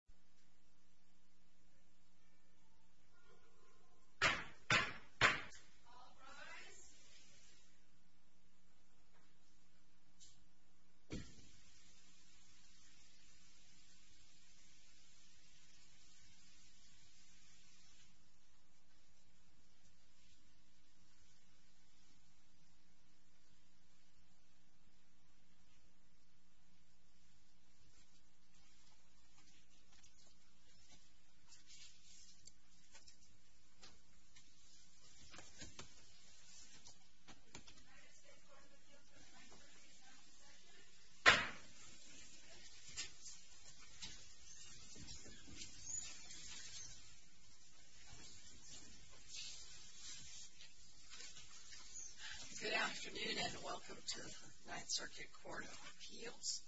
9th Circuit Court of Appeals Good afternoon and welcome to the 9th Circuit Court of Appeals.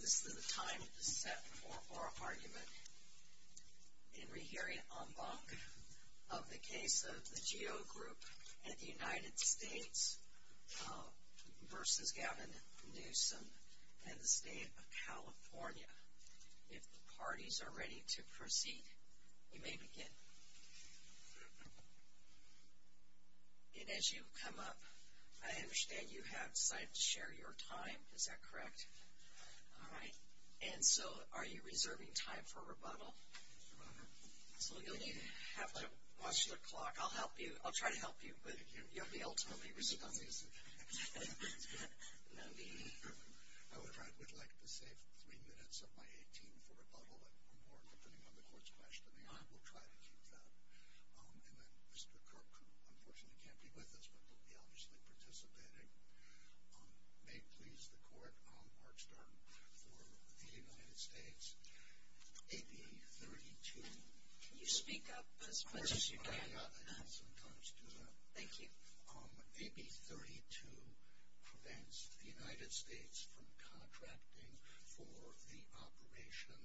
This is the time to set forth our argument in rehearing en banc of the case of the Geo Group and the United States v. Gavin Newsom and the State of California. If the parties are ready to proceed, you may begin. And as you come up, I understand you have decided to share your time, is that correct? All right. And so are you reserving time for rebuttal? Absolutely. Watch the clock. I'll help you. I'll try to help you, but you have the ultimate reason to help me. I would kind of like to save three minutes of my 18-foot rebuttal and put it on the Court's watch for the Honorable Clarence. And Mr. Kirk, who unfortunately can't be with us, but will be obviously participating, may please record our term for the United States. AB 32. Can you speak up as much as you can? Of course I can. Thank you. AB 32 prevents the United States from contracting for the operation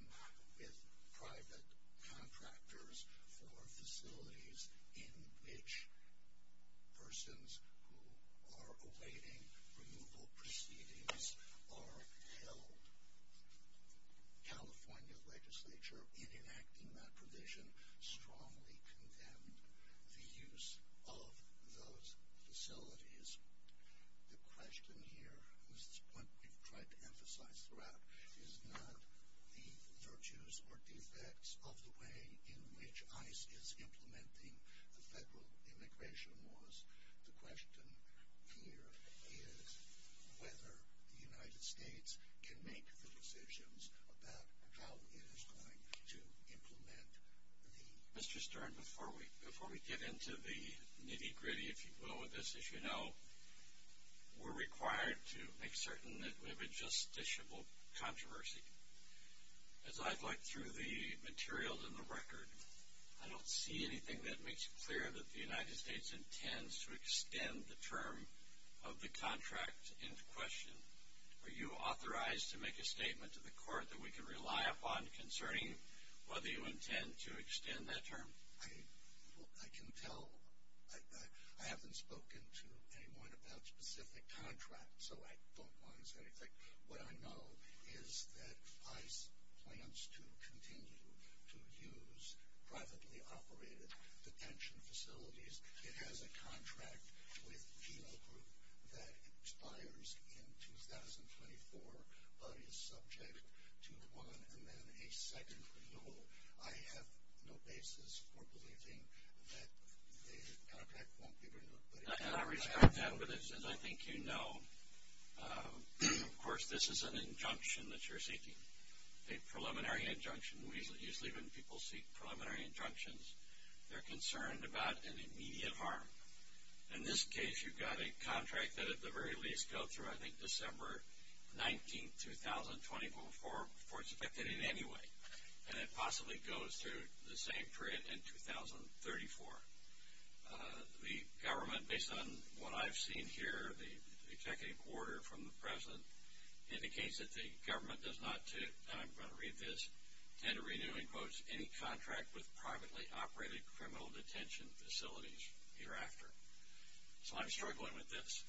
with private contractors for facilities in which persons who are awaiting removal proceedings are held. The California Legislature, in enacting that provision, strongly condemned the use of those facilities. The question here, which is what we've tried to emphasize throughout, is not the virtues or the effects of the way in which ICE is implementing federal immigration laws. The question here is whether the United States can make the decisions about how it is going to implement the need. Mr. Stern, before we get into the nitty-gritty, if you will, of this, as you know, we're required to make certain that we have a justiciable controversy. As I've looked through the materials in the record, I don't see anything that makes it clear that the United States intends to extend the term of the contract into question. Are you authorized to make a statement to the court that we can rely upon concerning whether you intend to extend that term? I can tell. I haven't spoken to anyone about specific contracts. What I know is that ICE plans to continue to use privately operated detention facilities. It has a contract with Gino Group that expires in 2024, but it's subject to one and then a second renewal. I have no basis for believing that the contract won't be renewed. I think you know, of course, this is an injunction that you're seeking, a preliminary injunction. Usually when people seek preliminary injunctions, they're concerned about any immediate harm. In this case, you've got a contract that at the very least goes through, I think, December 19, 2024 before it's effective in any way, and it possibly goes through the same period in 2034. The government, based on what I've seen here, the executive order from the president indicates that the government does not, and I'm going to read this, intend to renew, in quotes, any contract with privately operated criminal detention facilities thereafter. So I'm sure we're going with this.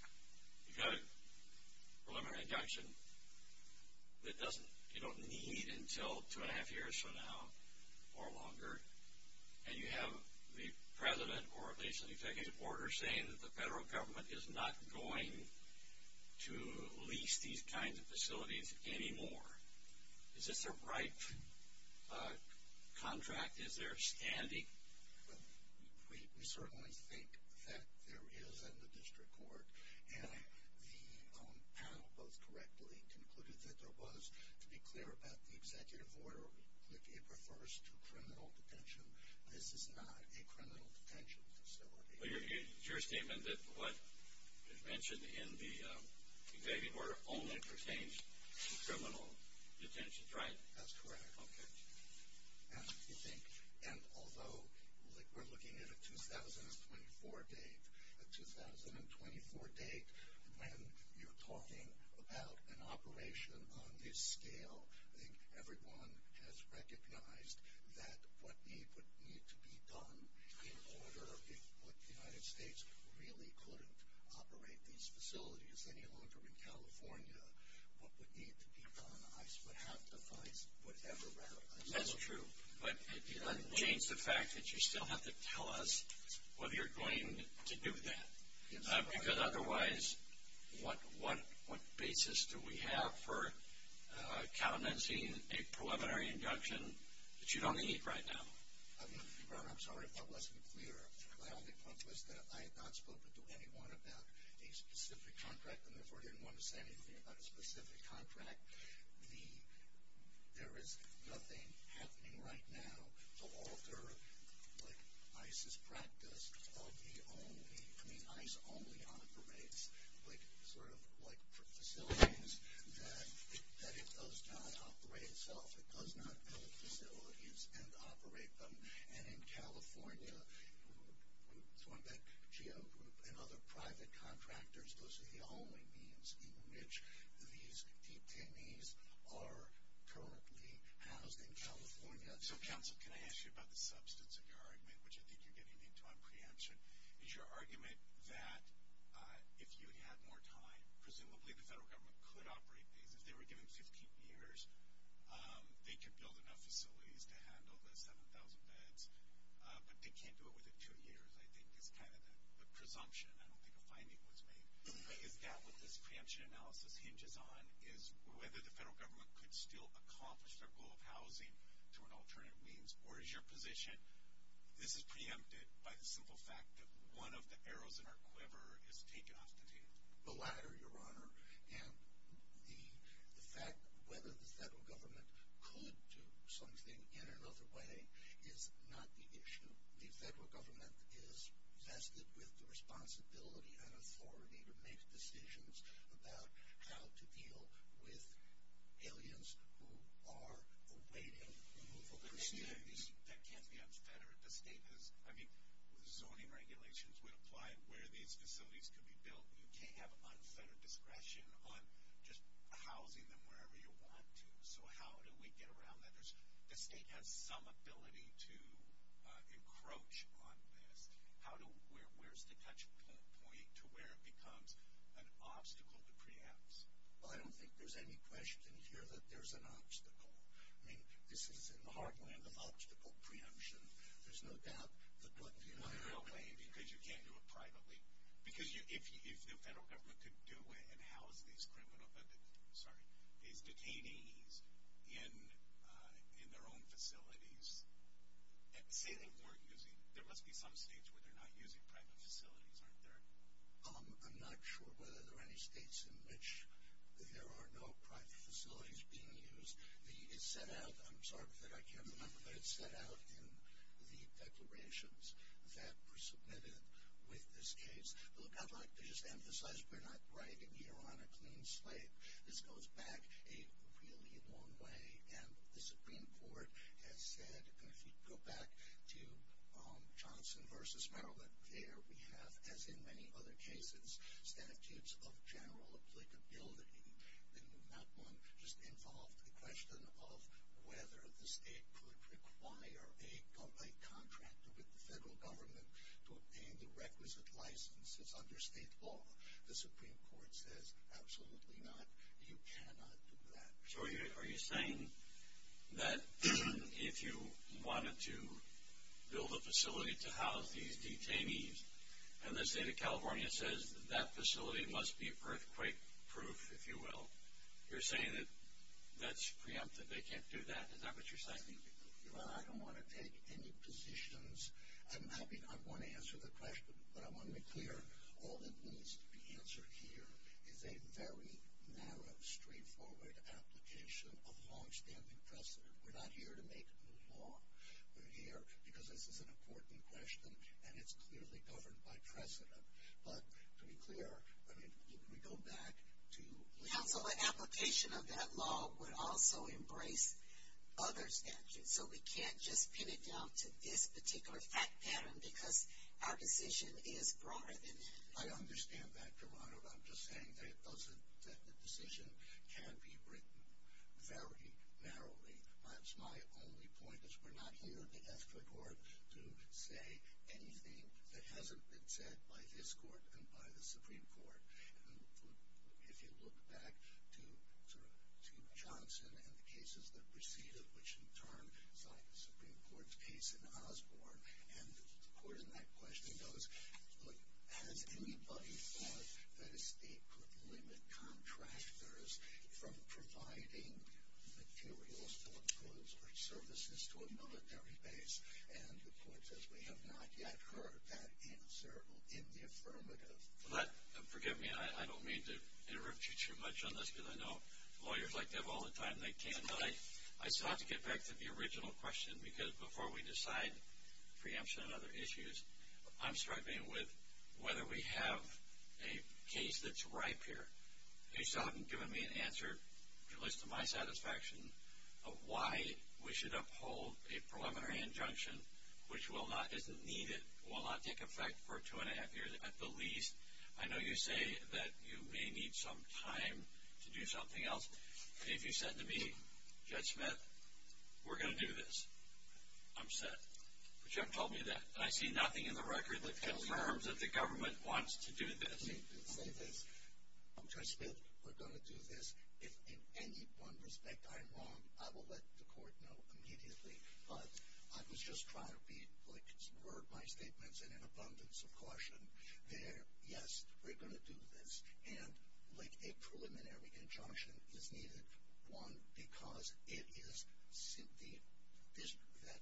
You've got a preliminary injunction that you don't need until two and a half years from now or longer, and you have the president or the executive order saying that the federal government is not going to lease these kinds of facilities anymore. Is this the right contract? Is there a standing? We certainly think that there is at the district court, and the panel, both correctly, concluded that there was, to be clear about the executive order, it refers to criminal detention. This is not a criminal detention facility. But your statement is that what is mentioned in the executive order only pertains to criminal detention, right? That's correct. Okay. And although, like we're looking at a 2024 date, a 2024 date when you're talking about an operation on this scale, I think everyone has recognized that what would need to be done in order, if the United States really couldn't operate these facilities any longer in California, what would need to be done, I suppose, would have to be whatever. That's true. But it would change the fact that you still have to tell us whether you're going to do that. Because otherwise, what basis do we have for countenancing a preliminary injunction that you don't need right now? Robert, I'm sorry if I wasn't clear. I only want to say that I am not speaking to anyone about a specific contract, and therefore I didn't want to say anything about a specific contract. There is nothing happening right now to alter ICE's practice of ICE only operates facilities that it does not operate itself. It does not build facilities and operate them. And in California, one of the Geo Group and other private contractors, most of the only means in which these deputies are currently housed in California. So, counsel, can I ask you about the substance of your argument, which I think you're getting into on preemption, is your argument that if you had more time, presumably the federal government could operate because they were given 15 years, they could build enough facilities to handle the 7,000 beds, but they can't do it within two years. I think that's kind of the presumption, I don't think the finding was made. I think that what this preemption analysis hinges on is whether the federal government could still accomplish their rule of housing through an alternate means, or is your position, this is preempted by the simple fact that one of the arrows in our quiver has taken us to the latter, Your Honor. And the fact whether the federal government could do something in another way is not the issue. The federal government is vested with the responsibility and authority to make decisions about how to deal with aliens who are waiting. That can't be unfettered. The state has, I mean, so many regulations we apply where these facilities can be built. You can't have unfettered discretion on just housing them wherever you want to. So how do we get around that? The state has some ability to encroach on this. Where's the touch point to where it becomes an obstacle to preempt? Well, I don't think there's any question here that there's an obstacle. I mean, this is in large way an obstacle to preemption. There's no doubt that there would be another way. Because you can't do it privately. Because if the federal government could do it and house these detainees in their own facilities, and say they weren't using, there must be some states where they're not using private facilities, aren't there? I'm not sure whether there are any states in which there are no private facilities being used. It's set out, I'm sorry that I can't remember, but it's set out in the declarations that were submitted with this case. I'd like to just emphasize, we're not writing here on a clean slate. This goes back a really long way. And the Supreme Court has said, if you go back to Johnson v. Maryland, there we have, as in many other cases, statutes of general applicability. And that one just involved the question of whether the state could require a contract with the federal government to obtain the requisite licenses under state law. The Supreme Court says, absolutely not. You cannot do that. So are you saying that if you wanted to build a facility to house these detainees, and the state of California says that that facility must be a perfect proof, if you will, you're saying that that's preemptive, they can't do that? Is that what you're saying? Well, I don't want to take any positions. I want to answer the question, but I want to be clear. All that needs to be answered here is a very narrow, straightforward application of longstanding precedent. We're not here to make the law. We're here because this is an important question, and it's clearly covered by precedent. But to be clear, I mean, if we go back to the... Well, the application of that law would also embrace other statute. So we can't just pin it down to this particular fact pattern because our decision is broader than that. I understand that, Geronimo. I'm just saying that the decision can be written very narrowly. That's my only point, is we're not here, as the court, to say anything that hasn't been said by this court and by the Supreme Court. And if you look back to Steve Johnson and the cases that preceded, which he termed the Supreme Court's case in Osborne, and the court in that question goes, has anybody thought that it's a problem in contractors from providing materials or goods or services to a monetary base? And the court says we have not yet heard that answer in the affirmative. But forgive me, I don't mean to interrupt you too much on this, because I know lawyers like to have all the time they can. But I'd still have to get back to the original question, because before we decide preemption and other issues, I'm struggling with whether we have a case that's ripe here. You still haven't given me an answer, at least to my satisfaction, of why we should uphold a preliminary injunction, which will not, isn't needed, will not take effect for two and a half years at the least. I know you say that you may need some time to do something else. And if you said to me, Judge Smith, we're going to do this, I'm set. The judge told me that. I see nothing in the record that confirms that the government wants to do this. Judge Smith, we're going to do this. If in any one respect I'm wrong, I will let the court know immediately. But I was just trying to be, like, spur my statements in an abundance of caution there. Yes, we're going to do this. And, like, a preliminary injunction is needed, one, because it is simply that the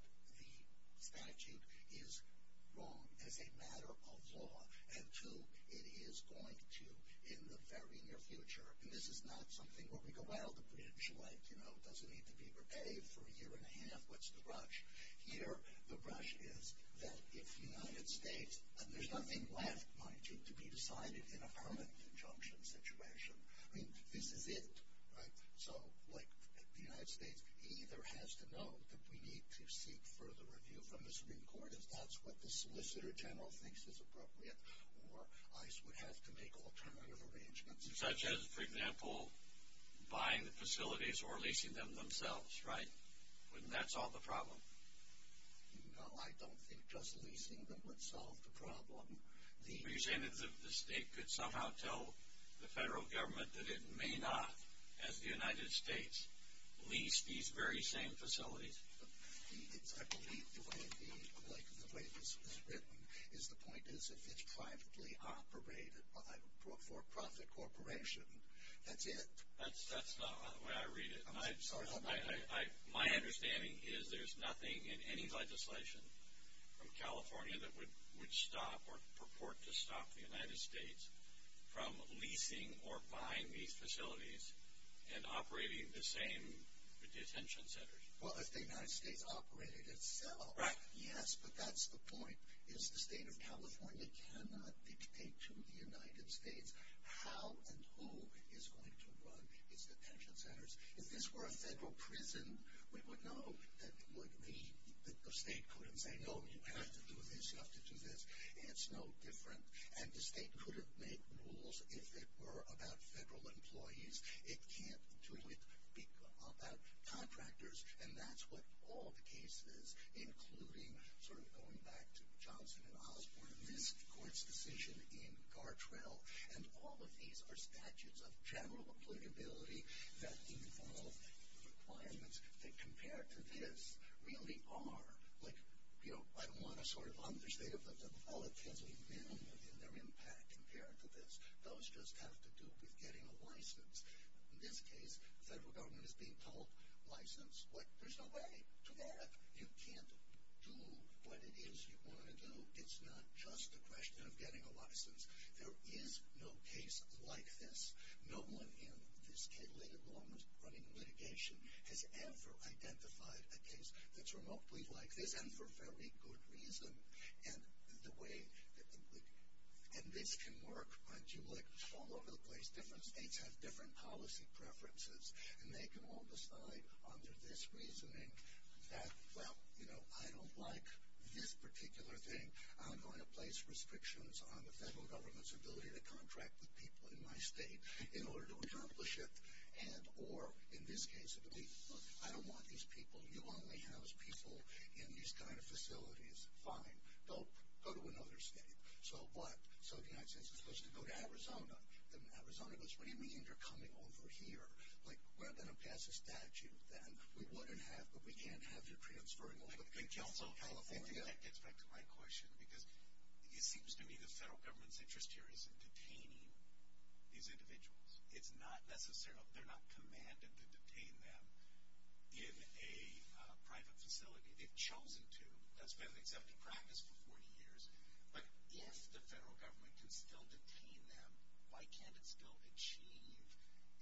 statute is wrong as a matter of law. And, two, it is going to, in the very near future, and this is not something where we go, well, the preemption letter, you know, doesn't need to be prepared for a year and a half. What's the rush? Here, the rush is that if the United States, and there's nothing left, mind you, to be decided in a permanent injunction situation, I mean, this is it, right? So, like, if the United States either has to know that we need to seek further review from the Supreme Court, if that's what the solicitor general thinks is appropriate, or ICE would have to make alternative arrangements. Such as, for example, buying the facilities or leasing them themselves, right? Wouldn't that solve the problem? No, I don't think just leasing them would solve the problem. Are you saying that the state could somehow tell the federal government that it may not, as the United States, lease these very same facilities? I believe the way it is written is the point is that it's privately operated by a for-profit corporation. That's it. That's not how I read it. My understanding is there's nothing in any legislation from California that would stop or purport to stop the United States from leasing or buying these facilities and operating the same detention centers. Well, if the United States operated itself. Right. Yes, but that's the point, is the state of California cannot dictate to the United States how and who is going to run these detention centers. If this were a federal prison, we would know that the state couldn't say, oh, you have to do this, you have to do this, and it's no different. And the state could have made rules if it were about federal employees. It can't do it about contractors, and that's what all the cases, including sort of going back to Johnson and Osborne, and the court's decision in Gartrell, and all of these are statutes of general applicability that involve requirements that compared to this really are, like, you know, I want to sort of understate that the felonies are minimal in their impact compared to this. Those just have to do with getting a license. In this case, the federal government is being told, license, but there's a way to that. You can't do what it is you want to do. It's not just a question of getting a license. There is no case like this. No one in this hit-and-run litigation has ever identified a case that's remotely like this, and for very good reason. And this can work on people like the felon over the place. Different states have different policy preferences, and they can all decide under this reasoning that, well, you know, I don't like this particular thing. I'm going to place restrictions on the federal government's ability to contract with people in my state in order to accomplish it. Or, in this case, look, I don't want these people. You only house people in these kind of facilities. Fine, they'll go to another state. So what? So the United States is supposed to go to Arizona, and Arizona goes, what do you mean you're coming over here? Like, rather than pass a statute, then we wouldn't have, but we can't have the transferring of people to California. I think that gets back to my question, because it seems to me the federal government's interest here isn't detaining these individuals. It's not necessarily, they're not commanded to detain them in a private facility. They've chosen to. That's been an accepted practice for 40 years. But if the federal government can still detain them, why can't it still achieve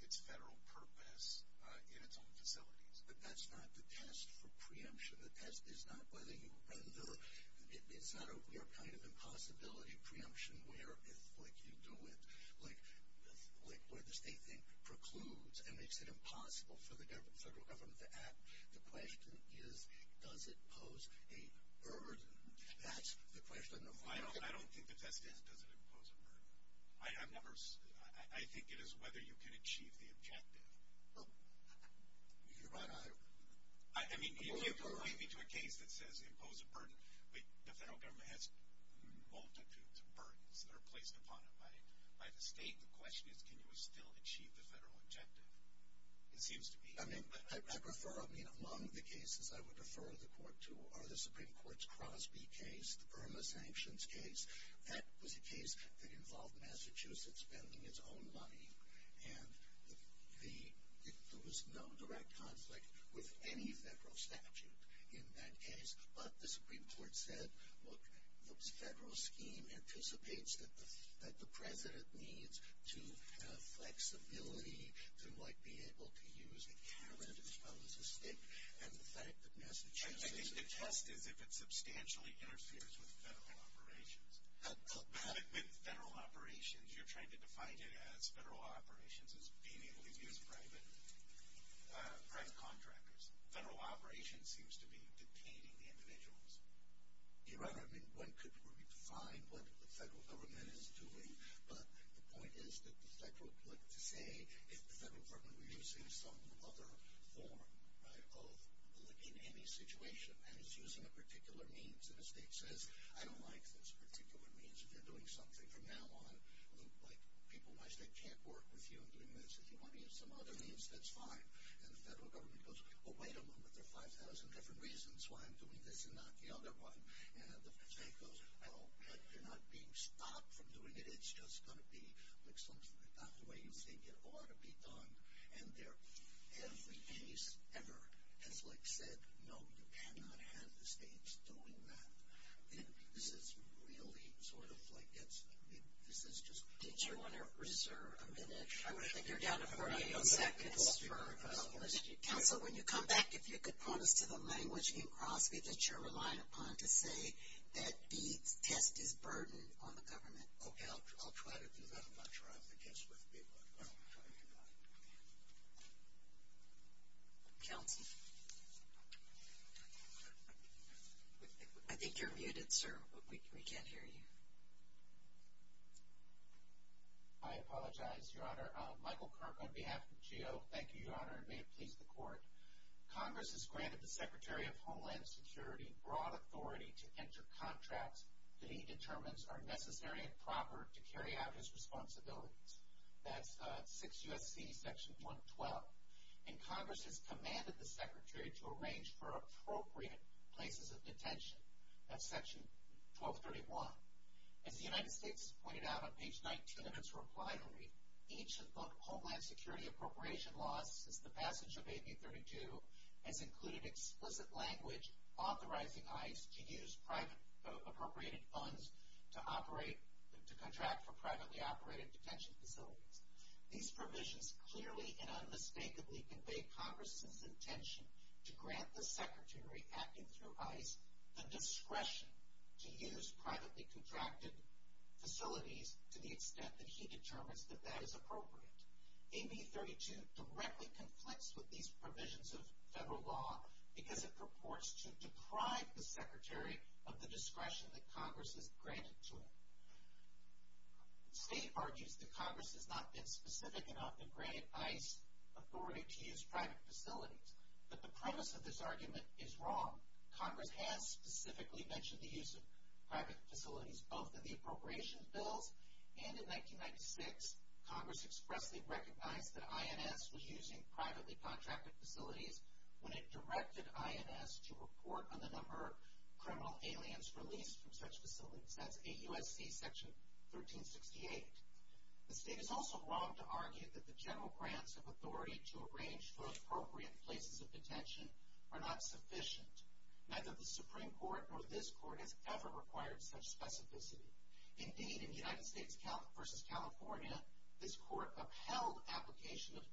its federal purpose in its own facilities? But that's not the test or preemption. The test is not whether you render. It's not a kind of impossibility preemption where you do it. Like, where the state procludes, and makes it impossible for the federal government to act. The question is, does it pose a burden? That's the question. I don't think that it does pose a burden. I think it is whether you can achieve the objective. You can run on it. I mean, if you relate me to a case that says it poses a burden, the federal government has an altitude to burden. They're placed upon it by the state. The question is, can you still achieve the federal objective? It seems to me. I mean, I prefer among the cases I would refer the court to are the Supreme Court's Crosby case, the permanent sanctions case. That was a case that involved Massachusetts spending its own money. And there was no direct conflict with any federal statute in that case. But the Supreme Court said, well, the federal scheme anticipates that the president needs to have flexibility to, like, be able to use a calendar as opposed to state. And the fact that Massachusetts has been tested, they've been substantially interceded with federal operations. Federal operations, you're trying to define it as federal operations as being able to use private contractors. Federal operations seems to be detaining the individuals. You're right. I mean, one could define what the federal government is doing. But the point is that the federal, let's say if the federal government is using some other form, right, of living in a situation and is using a particular means, and the state says, I don't like this particular means, and they're doing something from now on, like people might say, I can't work with you, and they say, do you want to use some other means? That's fine. And the federal government goes, well, wait a minute, there are 5,000 different reasons why I'm doing this and not the other one. And then the state goes, oh, but you're not being stopped from doing it. It's just going to be, like, something like that. The way you think it ought to be done. And there have been cases ever where it's like said, no, you cannot have the states doing that. And this is really sort of like this. I mean, this is just. Did you want to reserve a minute? I wish I could. You're down to four minutes. Okay. But I'll listen to you. But when you come back, if you could point to the language you brought, because you're reliant on it to say that the debt is burdened on the government. Okay. I'll try to do that. I'll try. I guess that would be what I'm going to tell you about. Tell me. I think you're muted, sir. We can't hear you. I apologize, Your Honor. Michael Kirk on behalf of GEO. Thank you, Your Honor. May it please the Court. Congress has granted the Secretary of Homeland Security broad authority to enter contracts that he determines are necessary and proper to carry out his responsibilities. That's 6 U.S.C. Section 112. And Congress has commanded the Secretary to arrange for appropriate places of detention. That's Section 1231. As the United States has pointed out on page 19 of its reply to me, each of the Homeland Security appropriation laws since the passage of AB 32 has included explicit language authorizing ICE to use private appropriated funds to contract for privately operated detention facilities. These provisions clearly and unmistakably convey Congressman's intention to grant the Secretary, acting through ICE, the discretion to use privately contracted facilities to the extent that he determines that that is appropriate. AB 32 directly conflicts with these provisions of federal law because it purports to deprive the Secretary of the discretion that Congress has granted to him. The state argues that Congress has not been specific enough in granting ICE authority to use private facilities. But the premise of this argument is wrong. Congress has specifically mentioned the use of private facilities, both in the appropriations bill and in 1996. Congress expressly recognized that INS was using privately contracted facilities when it directed INS to report on the number of criminal aliens released from such facilities. That's AUSD Section 1368. The state is also wrong to argue that the general grounds of authority to arrange for appropriate places of detention are not sufficient, neither the Supreme Court nor this Court has ever required such specificity. Indeed, in the United States v. California, this Court upheld application of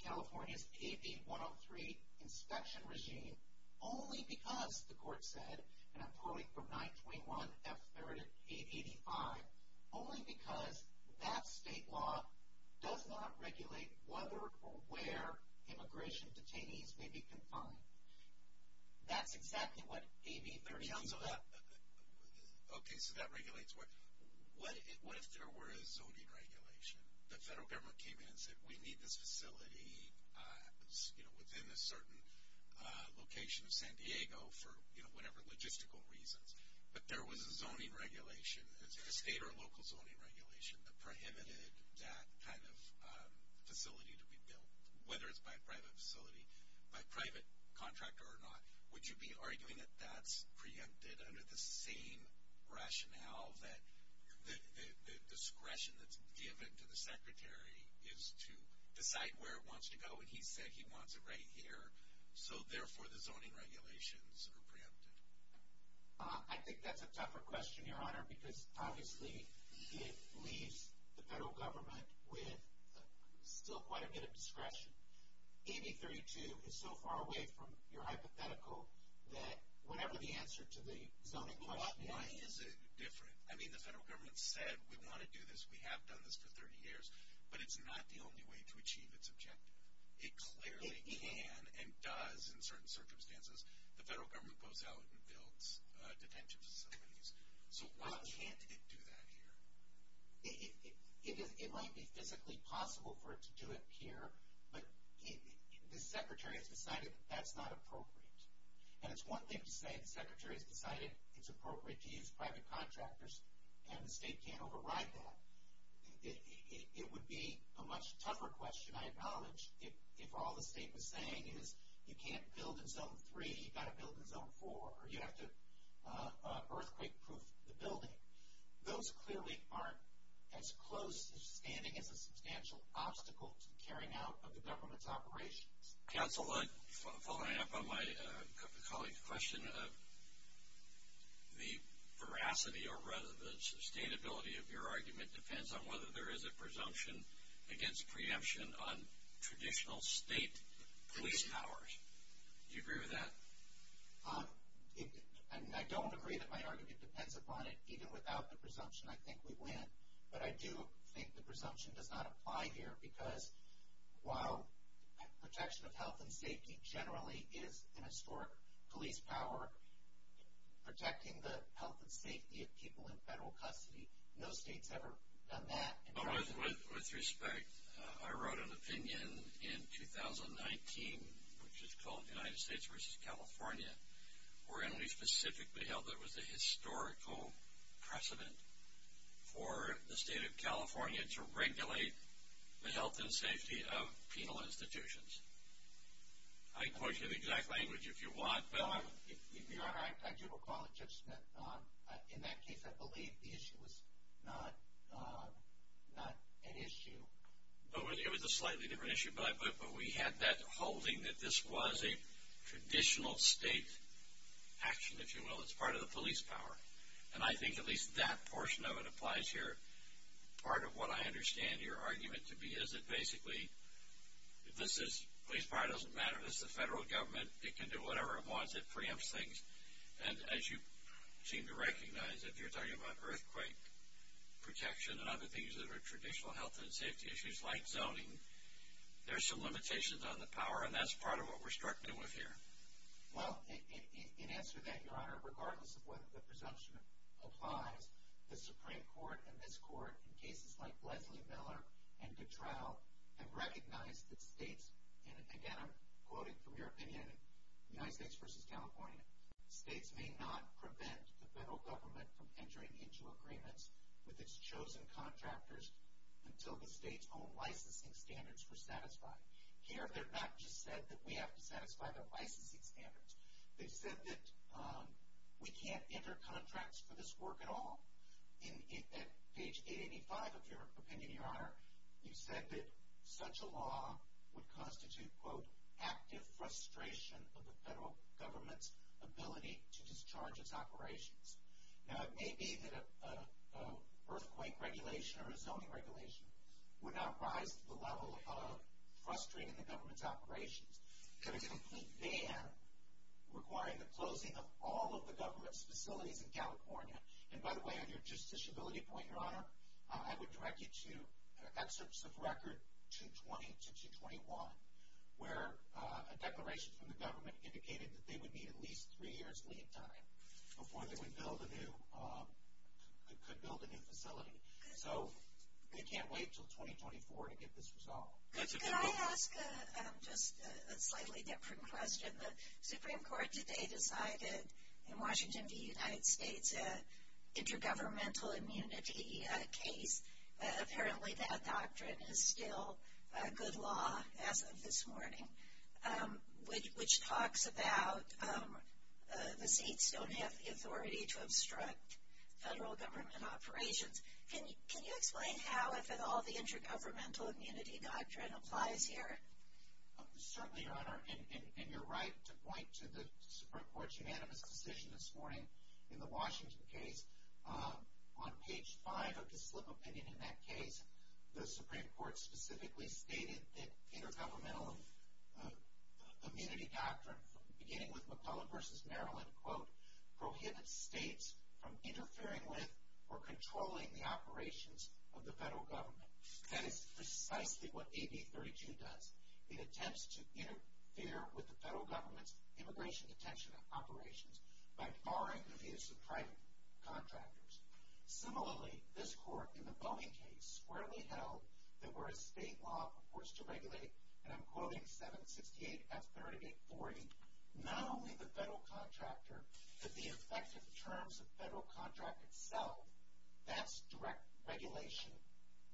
California's AB 103 inspection regime only because, the Court said, and I'm quoting from 921 F. 30 AB 85, only because that state law does not regulate whether or where immigration detainees may be confined. That's exactly what AB 30 under that. Okay, so that regulates what? What if there were a zoning regulation? The federal government came in and said, we need this facility within a certain location in San Diego for whatever logistical reasons. But there was a zoning regulation, a state or local zoning regulation that prohibited that kind of facility to be built, whether it's by private facility, by private contractor or not. Would you be arguing that that's preempted under the same rationale that the discretion that's given to the Secretary is to decide where it wants to go, and he said he wants it right here, so therefore the zoning regulations are preempted? I think that's a tougher question, Your Honor, because obviously it leaves the federal government with still quite a bit of discretion. AB 32 is so far away from your hypothetical that whatever the answer to the zoning law is, it's different. I mean, the federal government said we want to do this, we have done this for 30 years, but it's not the only way to achieve its objective. It clearly can and does in certain circumstances. The federal government goes out and builds detention facilities. So why can't it do that here? It might be physically possible for it to do it here, but the Secretary has decided that that's not appropriate. And it's one thing to say the Secretary has decided it's appropriate to use private contractors and the state can't override that. It would be a much tougher question, I acknowledge, if all the state was saying is you can't build in Zone 3, you've got to build in Zone 4, or you have to earthquake-proof the building. Those clearly aren't as close to standing as the substantial obstacles carrying out of the government's operations. Counsel, following up on my colleague's question, the veracity or rather the sustainability of your argument depends on whether there is a presumption against preemption on traditional state police powers. Do you agree with that? I don't agree that my argument depends upon it. Even without the presumption, I think we win. But I do think the presumption does not apply here because while protection of health and safety generally is an historic police power, protecting the health and safety of people in federal custody, no state's ever done that. With respect, I wrote an opinion in 2019, which is called United States versus California, where Emily specifically held there was a historical precedent for the state of California to regulate the health and safety of penal institutions. I can give you the exact language if you want. I do recall it, Judge Smith. In that case, I believe the issue was not an issue. It was a slightly different issue, but we had that holding that this was a traditional state action, if you will, as part of the police power. And I think at least that portion of it applies here. Part of what I understand your argument to be is that basically police power doesn't matter. This is federal government. It can do whatever it wants. It preempts things. And as you seem to recognize, if you're talking about earthquake protection and other things that are traditional health and safety issues like zoning, there are some limitations on the power, and that's part of what we're struggling with here. Well, in answer to that, Your Honor, regardless of whether the presumption applies, the Supreme Court and this Court, in cases like Leslie Miller and Dutroux, have recognized that states, and again I'm quoting from your opinion, United States versus California, states may not prevent the federal government from entering into agreements with its chosen contractors until the state's own licensing standards were satisfied. Here they've not just said that we have to satisfy the licensing standards. They said that we can't enter contracts for this work at all. In page 885 of your opinion, Your Honor, you said that such a law would constitute, quote, active frustration of the federal government's ability to discharge its operations. Now it may be that an earthquake regulation or a zoning regulation would not rise to the level of frustrating the government's operations. Could a complete ban require the closing of all of the government's facilities in California? And, by the way, on your justiciability point, Your Honor, I would direct you to that specific record 220-221, where a declaration from the government indicated that they would need at least three years' leave time before they could build a new facility. So they can't wait until 2024 to get this resolved. Could I ask just a slightly different question? The Supreme Court today decided in Washington, D.C., that intergovernmental immunity case, apparently that doctrine is still good law as of this morning, which talks about the states don't have the authority to obstruct federal government's operations. Can you explain how is it all the intergovernmental immunity doctrine applies here? Certainly, Your Honor, and you're right to point to the Supreme Court's unanimous position this morning in the Washington case. On page five of the slip of the pen in that case, the Supreme Court specifically stated that intergovernmental immunity doctrine, beginning with McClellan v. Maryland, prohibits states from interfering with or controlling the operations of the federal government. That is precisely what AB 32 does. It attempts to interfere with the federal government's immigration detention operations by barring the use of private contractors. Similarly, this court in the Bowie case squarely held that where a state law purports to regulate, and I'm quoting 768-538-40, not only the federal contractor, but the effective terms of the federal contract itself. That's direct regulation,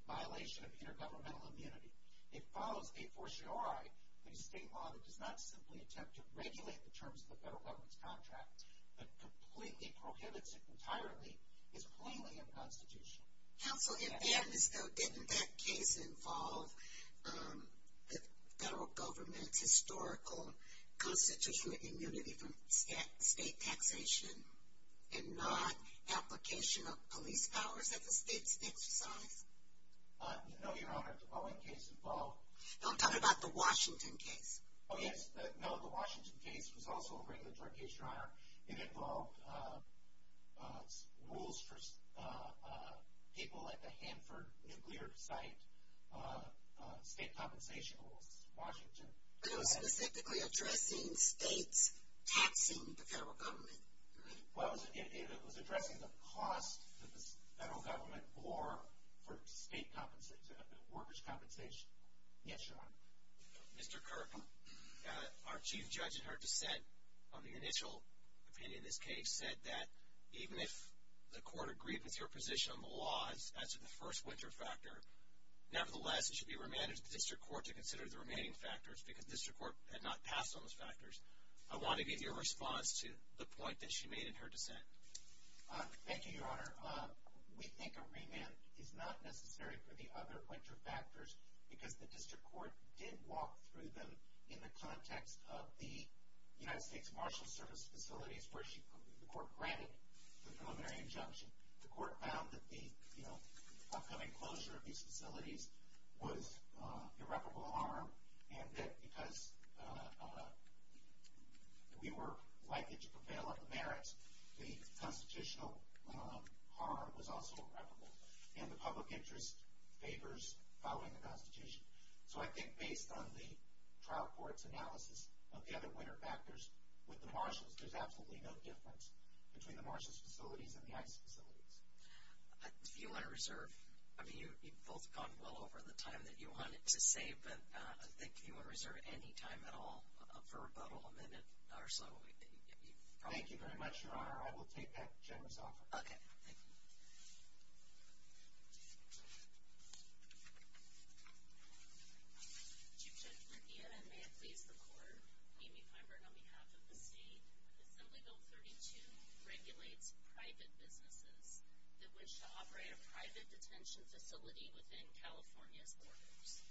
violation of intergovernmental immunity. It follows a fortiori. A state law does not simply attempt to regulate the terms of the federal government's contract, but completely prohibits it entirely. It's plainly unconstitutional. Counsel, it is. So did that case involve the federal government's historical constitutional immunity from state penetration and not application of police powers as a state-connected body? No, Your Honor. The Bowie case involved... I'm talking about the Washington case. Oh, yes. No, the Washington case was also a regulatory case, Your Honor. It involved rules for people at the Hanford nuclear site, state compensation rules, Washington. So it was specifically addressing states acting with the federal government. It was addressing the cost to the federal government or state workers' compensation. Yes, Your Honor. Mr. Kirk, our chief judge in her dissent on the initial opinion of this case said that even if the court agrees with your position on the laws as to the first winter factor, nevertheless, it should be remanded to the district court to consider the remaining factors because the district court had not passed on those factors. I want to get your response to the point that she made in her dissent. Thank you, Your Honor. We think a remand is not necessary for the other winter factors because the district court did walk through them in the context of the United States Marshals Service facilities where the court granted the preliminary injunction. The court found that the upcoming closure of these facilities was irreparable harm and that because we were likely to prevail on the merits, the constitutional harm was also irreparable, and the public interest favors following the Constitution. So I think based on the trial court's analysis of the other winter factors with the marshals, there's absolutely no difference between the marshals' facilities and the ICE facilities. Do you want to reserve? I mean, you've both gone well over the time that you wanted to say, but I think if you want to reserve any time at all for a vote, I'll amend it. Thank you very much, Your Honor. I will take that gentleman's offer. Okay. Thank you. Thank you. Chief Justice, again, may it please the Court, we, the federal counsel, and the state, the Federal 32, regulate private businesses that wish to operate a private detention facility within California borders.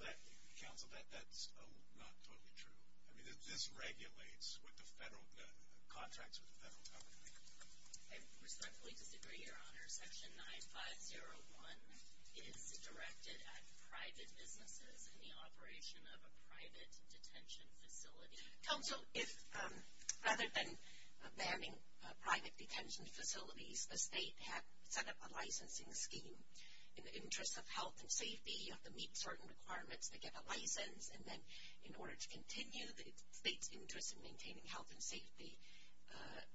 Well, counsel, that's not totally true. I mean, this regulates with the federal contracts of the federal government. And respectfully, Your Honor, Section 9501 is directed at private businesses in the operation of a private detention facility. Counsel, rather than banning private detention facilities, the state has set up a licensing scheme. In the interest of health and safety, you have to meet certain requirements to get a license, and then in order to continue the state's interest in maintaining health and safety,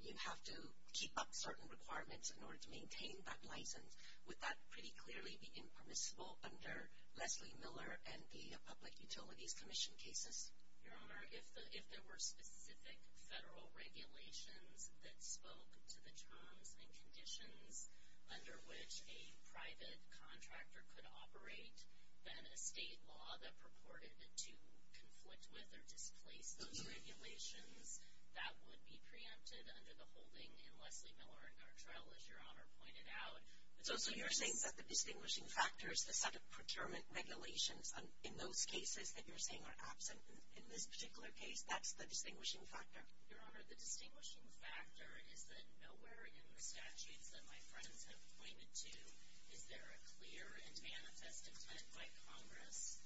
you have to keep up certain requirements in order to maintain that license. Would that pretty clearly be impermissible under Leslie Miller and the Public Utilities Commission cases? Your Honor, if there were specific federal regulations that spoke to the terms and conditions under which a private contractor could operate, then a state law that purported to conflict with or displace those regulations, that would be preempted under the holding in Leslie Miller in our trial, as Your Honor pointed out. So you're saying that the distinguishing factor is the set of procurement regulations in those cases that you're saying are absent in this particular case. That's the distinguishing factor? Your Honor, the distinguishing factor is that nowhere in the statutes that my friends have pointed to is there a clear and manifest consent by Congress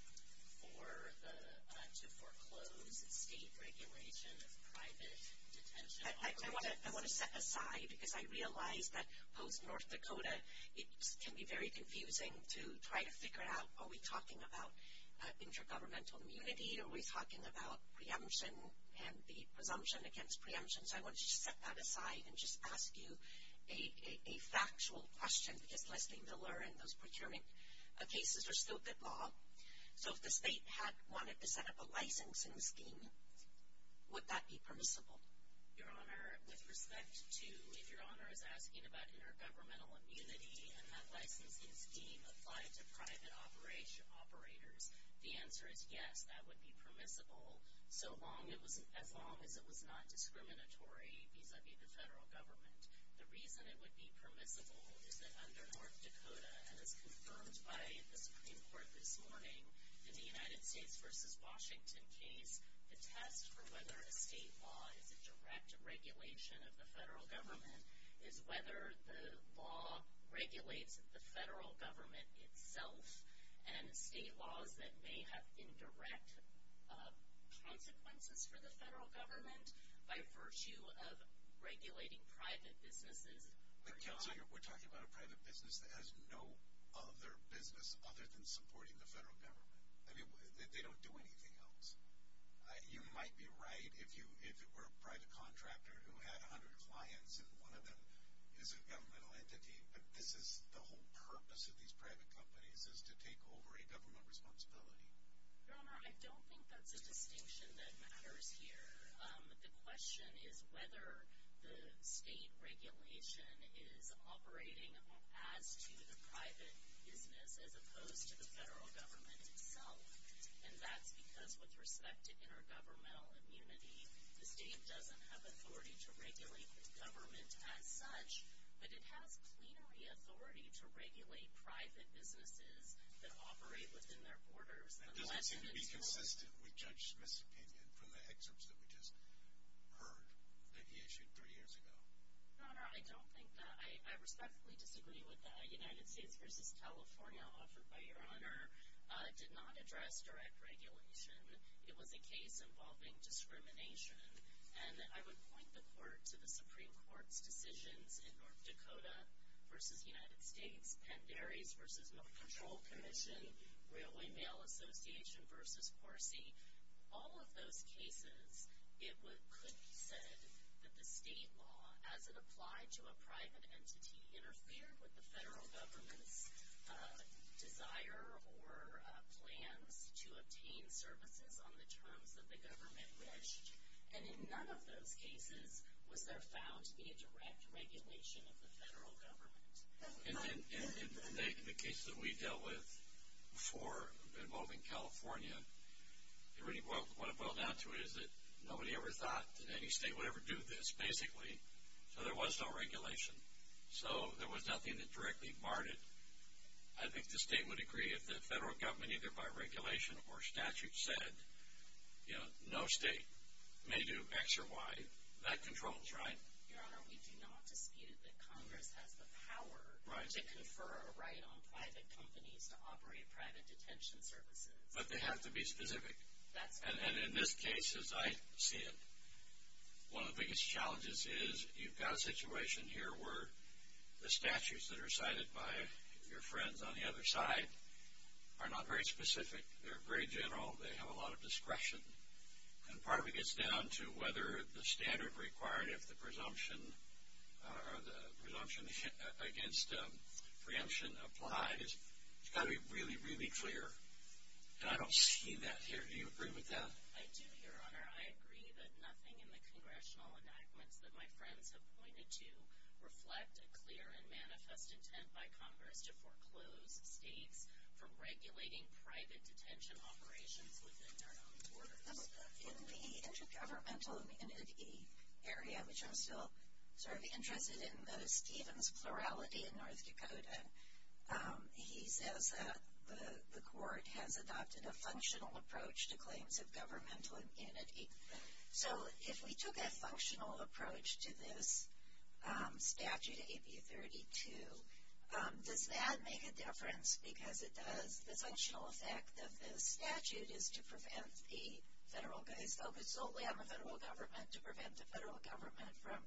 to foreclose a regulation of private detention. I want to set that aside because I realize that post-North Dakota, it can be very confusing to try to figure out are we talking about intergovernmental immunity, are we talking about preemption and the presumption against preemption. So I want to set that aside and just ask you a factual question. If Leslie Miller and those procurement cases are still involved, so if the state had wanted to set up a licensing scheme, would that be permissible? Your Honor, with respect to if Your Honor, that intergovernmental immunity and that licensing scheme applied to private operators, the answer is yes, that would be permissible as long as it was not discriminatory because it's a federal government. The reason it would be permissible is that under North Dakota, as confirmed by the Supreme Court this morning in the United States v. Washington case, the test for whether a state law is a direct regulation of the federal government is whether the law regulates the federal government itself. And state laws that may have indirect consequences for the federal government by virtue of regulating private businesses. But Your Honor, we're talking about a private business that has no other business other than supporting the federal government. I mean, they don't do anything else. You might be right if you were a private contractor who had 100 clients and one of them is a governmental entity, but the whole purpose of these private companies is to take over a government responsibility. Your Honor, I don't think that's a distinction that matters here. The question is whether the state regulation is operating as to the private as opposed to the federal government itself. And that's because with respect to intergovernmental immunity, the state doesn't have authority to regulate government as such, but it has community authority to regulate private businesses that operate within their borders. And that's going to be consistent with Judge Smith's opinion from the excerpts that we just heard that he issued three years ago. Your Honor, I don't think that. I respectfully disagree with that. United States v. California, offered by Your Honor, did not address direct regulation. It was a case involving discrimination, and I would point the court to the Supreme Court's decision in North Dakota v. United States, Pat Berry v. North Control Commission, Railway Mail Association v. Horsey. All of those cases, it could be said that the state law, as it applied to a private entity interfered with the federal government's desire or plan to obtain services on the terms that the government wished. And in none of those cases would there, thousand, be a direct regulation of the federal government. In the case that we dealt with before involving California, what it boiled down to is that nobody ever thought that any state would ever do this, basically. So there was no regulation. So there was nothing that directly marred it. I think the state would agree that the federal government, either by regulation or statute, said no state may do X or Y. That controls, right? Your Honor, we do not concede that Congress has the power to confer a right on private companies to operate private detention services. But they have to be specific. And in this case, as I see it, one of the biggest challenges is you've got a situation here where the statutes that are cited by your friend on the other side are not very specific. They're very general. They have a lot of discretion. And part of it gets down to whether the standard required of the presumption or the presumption against preemption applies. It's got to be really, really clear. And I don't see that here. Do you agree with that? I do, Your Honor. Your Honor, I agree that nothing in the congressional enactments that my friend has pointed to reflects a clear and manifest intent by Congress to foreclose states from regulating private detention operations within their own borders. In the intergovernmental immunity area, which I'm still sort of interested in those terms, plurality in North Dakota, he says that the court has adopted a functional approach to claims of governmental immunity. So if we took a functional approach to this statute, AB 32, does that make a difference because the functional effect of this statute is to prevent the federal government to prevent the federal government from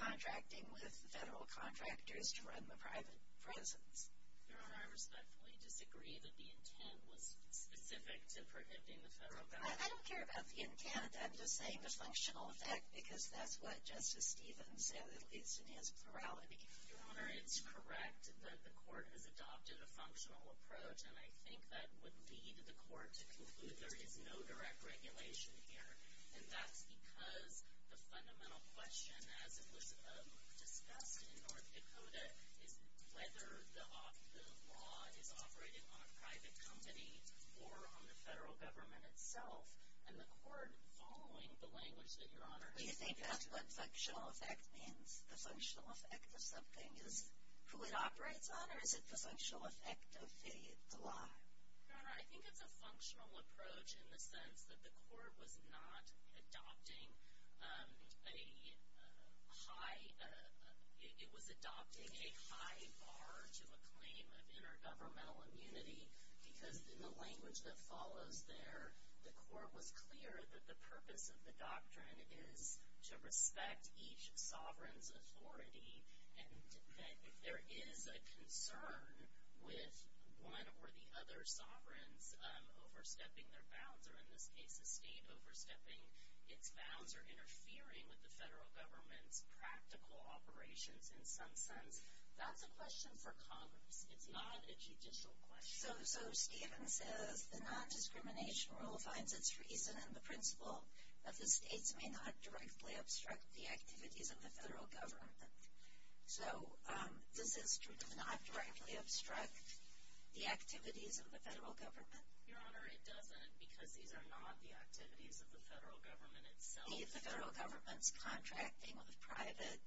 contracting with the federal contractors to run the private prisons? Your Honor, I respectfully disagree that the intent was specific to preventing the federal government. I don't care about the intent. I'm just saying the functional effect because that's what Justice Stevens said, at least in his plurality. Your Honor, it's correct that the court has adopted a functional approach, and I think that would lead the court to conclude there is no direct regulation here, and that's because the fundamental question, as it was discussed in North Dakota, is whether the law is operating on a private company or on the federal government itself, and the court is following the language that you're honoring. Do you think that's what functional effect means? The functional effect of something is who it operates on? Or is it the functional effect of cities alive? Your Honor, I think it's a functional approach in the sense that the court was not adopting a high – it was adopting a high bar to a claim of intergovernmental immunity because in the language that follows there, the court was clear that the purpose of the doctrine is to respect each sovereign's authority and that if there is a concern with one or the other sovereign overstepping their bounds, or in this case, the state overstepping its bounds or interfering with the federal government's practical operations in some sense, that's a question for comment. It's not a judicial question. So Stevens says the nondiscrimination rule finds its reason in the principle that the states may not directly obstruct the activities of the federal government. So this is true. It does not directly obstruct the activities of the federal government. Your Honor, it doesn't because these are not the activities of the federal government itself. These are the federal government's contracting with private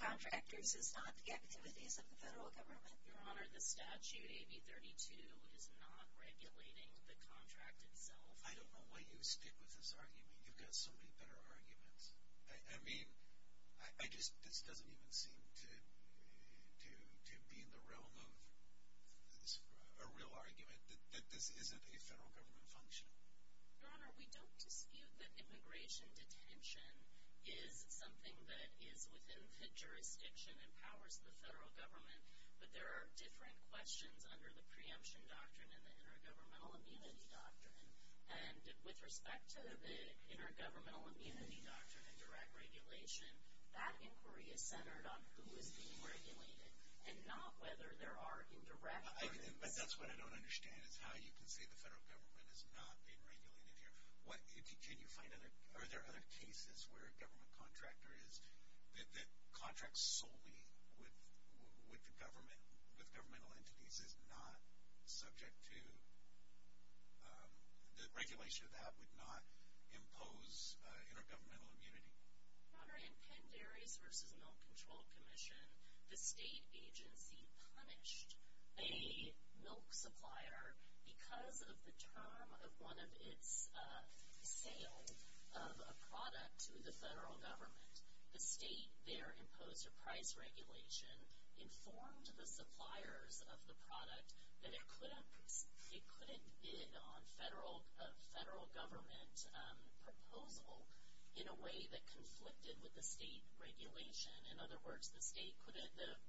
contractors. It's not the activities of the federal government. Your Honor, the statute, AB 32, is not regulating the contract itself. I don't know why you stick with this argument. You've got so many better arguments. I mean, this doesn't even seem to be the realm of a real argument that this isn't a federal government function. Your Honor, we don't conceive that immigration detention is something that is within the jurisdiction and powers of the federal government, but there are different questions under the preemption doctrine and the intergovernmental immunity doctrine. And with respect to the intergovernmental immunity doctrine and direct regulation, that inquiry is centered on who is being regulated and not whether there are indirect agreements. But that's what I don't understand is how you can say the federal government is not being regulated here. Are there other cases where a government contractor is, that contracts solely with the government, with governmental entities is not subject to, that regulation of that would not impose intergovernmental immunity? Your Honor, in Penn Dairies v. Milk Control Commission, the state agency punished a milk supplier because of the term of one of its sales of a product to the federal government. The state there imposed a price regulation, informed the suppliers of the product, that it could have bid on federal government proposal in a way that conflicted with the state's regulation. In other words, the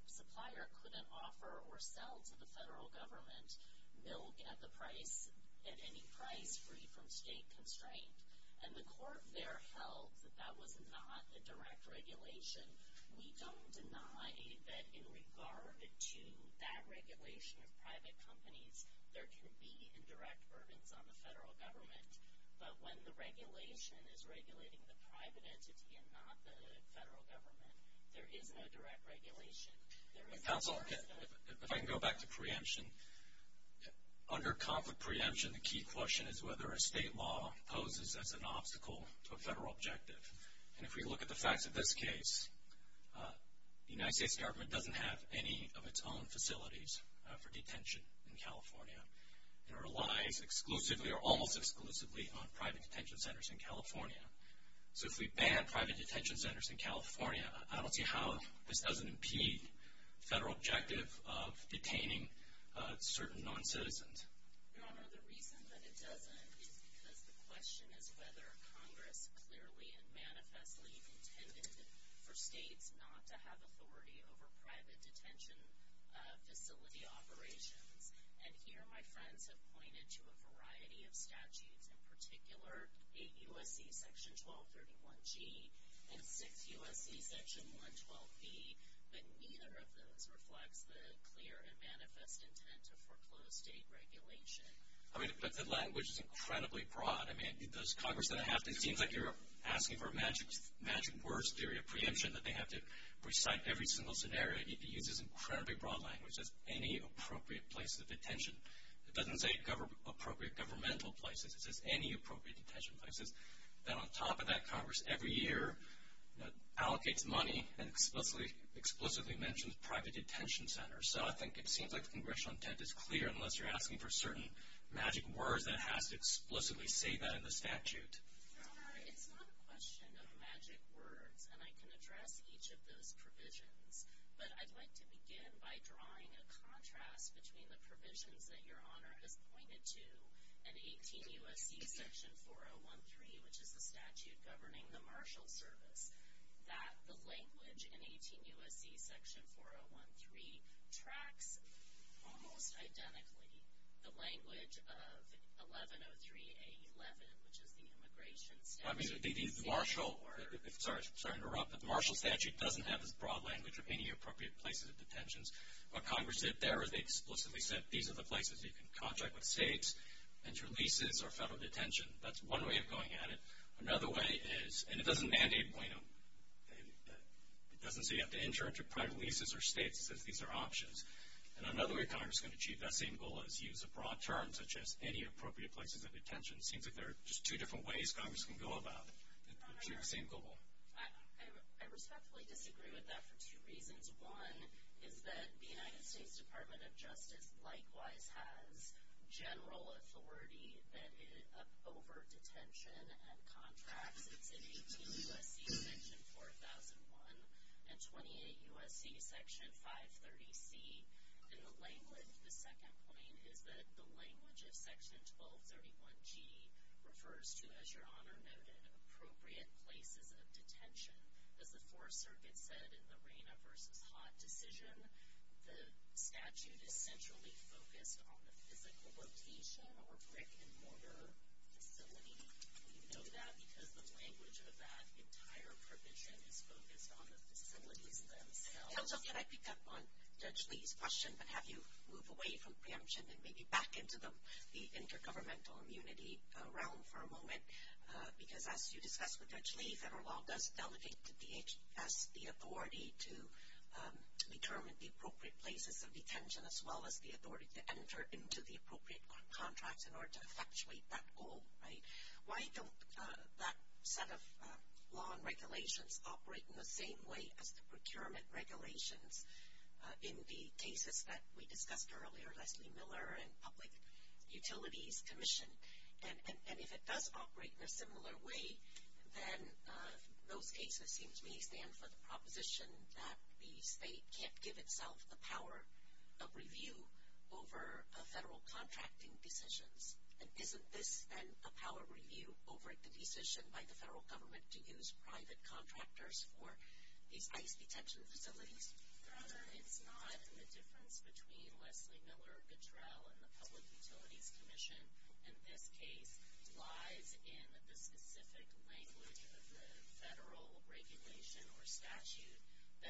supplier couldn't offer or sell to the federal government milk at any price free from state constraint. And the court there held that that was not a direct regulation. We don't deny that in regard to that regulation of private companies, there can be indirect burdens on the federal government. But when the regulation is regulating the private entity and not the federal government, there is no direct regulation. Counselor, if I can go back to preemption, under conflict preemption, the key question is whether a state law poses as an obstacle to a federal objective. And if we look at the facts of this case, the United States government doesn't have any of its own facilities for detention in California. It relies exclusively or almost exclusively on private detention centers in California. So if we ban private detention centers in California, I don't see how this doesn't impede federal objective of detaining certain non-citizens. Your Honor, the reason that it doesn't is because the question is whether Congress clearly and manifestly intended for states not to have authority over private detention facility operations. And here my friends have pointed to a variety of statutes. In particular, 8 U.S.C. Section 1231G and 6 U.S.C. Section 112B. But neither of those reflects the clear and manifest intent of foreclosed state regulation. I mean, but the language is incredibly broad. I mean, does Congress have to – it seems like you're asking for a magic words theory of preemption, that they have to recite every single scenario. It uses incredibly broad language. It says any appropriate place of detention. It doesn't say appropriate governmental places. It says any appropriate detention places. And on top of that, Congress every year allocates money and explicitly mentions private detention centers. So I think it seems like the congressional intent is clear, unless you're asking for certain magic words that explicitly say that in the statute. Sorry, it's not a question of magic words, and I can address each of those provisions. But I'd like to begin by drawing a contrast between the provisions that Your Honor has pointed to and 18 U.S.C. Section 4013, which is the statute governing the marshal service, that the language in 18 U.S.C. Section 4013 tracks almost identically the language of 1103A11, which would be immigration. I mean, the marshal – sorry to interrupt, but the marshal statute doesn't have the broad language of any appropriate places of detention. While Congress did there, they explicitly said these are the places you can contract with states, interleases, or federal detention. That's one way of going at it. Another way is – and it doesn't mandate a point of – it doesn't say you have to enter into private leases or states because these are options. And another way Congress can achieve that same goal is use a broad term such as any appropriate places of detention. It seems that there are just two different ways Congress can go about the same goal. I respectfully disagree with that for two reasons. One is that the United States Department of Justice likewise has general authority that is of overt detention and contract in 18 U.S.C. Section 4001 and 28 U.S.C. Section 530C in the language. The second point is that the language in Section 1231G refers to, as Your Honor noted, appropriate places of detention. As the Fourth Circuit said in the Reina v. Haas decision, the statute essentially focused on the typical location or brick-and-mortar facility. We know that because the language of that entire provision is focused on the facility themselves. Also, can I pick up on Judge Lee's question and have you move away from preemption and maybe back into the intergovernmental immunity realm for a moment? Because as you discussed with Judge Lee, federal law does delegate to the agency the authority to determine the appropriate places of detention as well as the authority to enter into the appropriate contracts in order to effectuate that goal, right? Why don't that set of law and regulations operate in the same way as the procurement regulations in the cases that we discussed earlier, like the Miller and Public Utilities Commission? And if it does operate in a similar way, then those cases give me a sense of the proposition that the state can't give itself the power of review over federal contracting decisions. Isn't this then a power review over the decision by the federal government to use private contractors for these ICE detention facilities? It's not the difference between what the Miller, the Drell, and the Public Utilities Commission, in this case, lies in the specific language of the federal regulation or statute.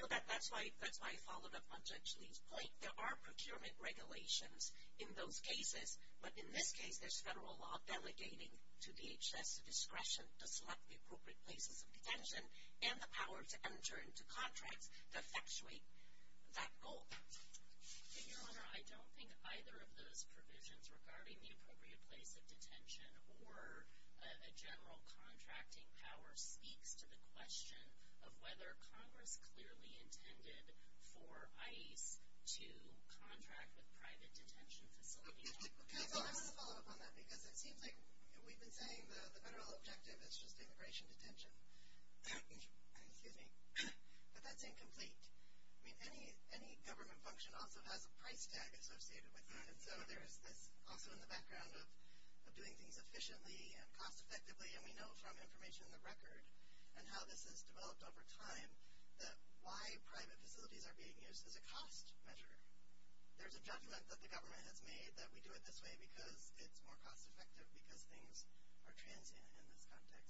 That's my follow-up on Judge Lee's point. There are procurement regulations in those cases, but in this case, there's federal law delegating to the agency the discretion to select the appropriate places of detention and the power to enter into contracts to effectuate that goal. Your Honor, I don't think either of those provisions regarding the appropriate places of detention or a general contracting power speaks to the question of whether Congress clearly intended for ICE to contract the private detention facilities. I want to follow up on that because it seems like we've been saying the federal objective is just the operation of detention. If that's incomplete, any government function also has a price standard associated with it. So it's also in the background of doing things efficiently and cost-effectively, and we know from information in the record and how this has developed over time that why private facilities are being used is a cost measure. There's a judgment that the government has made that we do it this way because it's more cost-effective because things are transient in this aspect.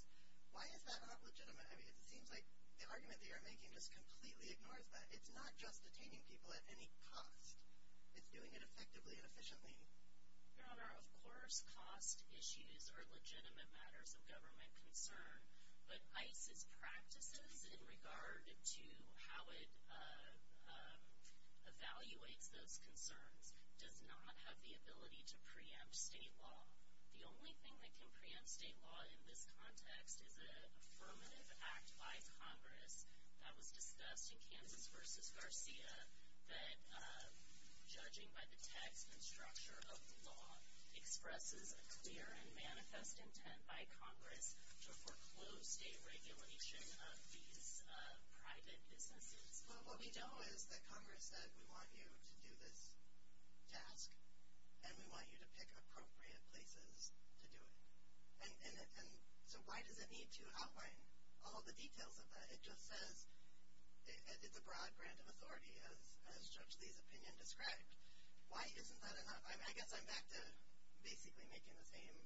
Why is that not legitimate? I mean, it seems like the argument that you're making just completely ignores that. It's not just detaining people at any cost. It's doing it effectively and efficiently. Your Honor, of course, cost issues are legitimate matters of government concern, but ICE's practices in regard to how it evaluates those concerns does not have the ability to preempt state law. The only thing that can preempt state law in this context is an affirmative act by Congress that was discussed in Candidates v. Garcia that, judging by the text and structure of the law, expresses a clear and manifest intent by Congress to foreclose state regulation of these private facilities. But what we know is that Congress says we want you to do this task, and we want you to pick appropriate places to do it. So why does it need to outline all the details of that? It just says it's a broad, random authority, as Judge Lee's opinion describes. Why isn't that enough? I mean, I guess I'm back to basically asking the same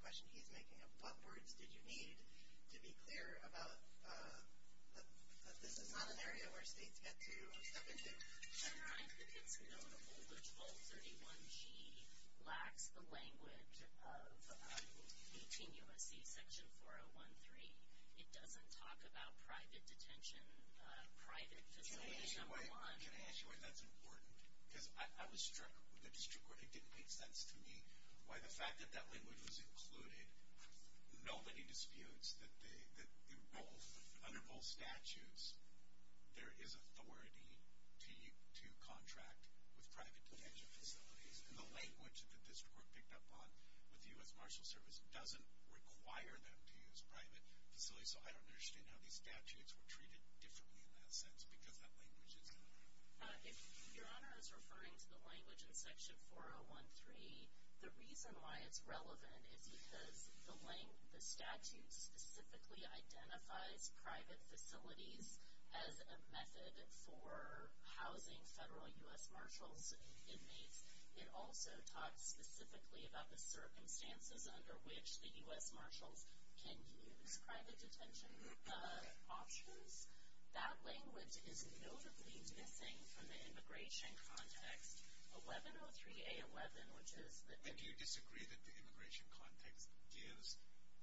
question he's making of, well, first, did you need to be clear about, because this is not an area where states get to, and I think it's notable that both 31G lacks the language of continuous detention, 4013. It doesn't talk about private detention, private detention. Sure, that's important. I was struck, and it makes sense to me, by the fact that that language was included. Nobody disputes that under most statutes there is authority to contract with private detention facilities, and the language that this report picked up on, the U.S. Marshals Service doesn't require that to use private facilities, so I don't understand how these statutes were treated differently in that sense, because that language is different. Your Honor, I was referring to the language in Section 4013, the reason why it's relevant. It's because the statute specifically identifies private facilities as a method for housing federal U.S. Marshals inmates. It also talks specifically about the circumstances under which the U.S. Marshals can use private detention options. That language is notably missing from the immigration context. Have you disagreed that the immigration context gives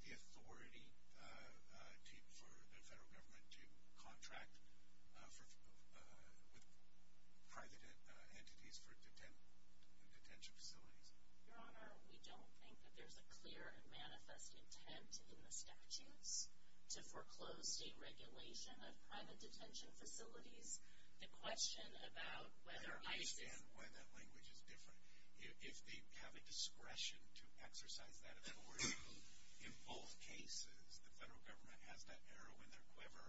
the authority for the federal government to contract with private entities for a detention facility? Your Honor, we don't think that there's a clear and manifest intent in the statute to foreclose a regulation of private detention facilities. I don't understand why that language is different. If they have a discretion to exercise that authority in both cases, the federal government has that error when they're clever,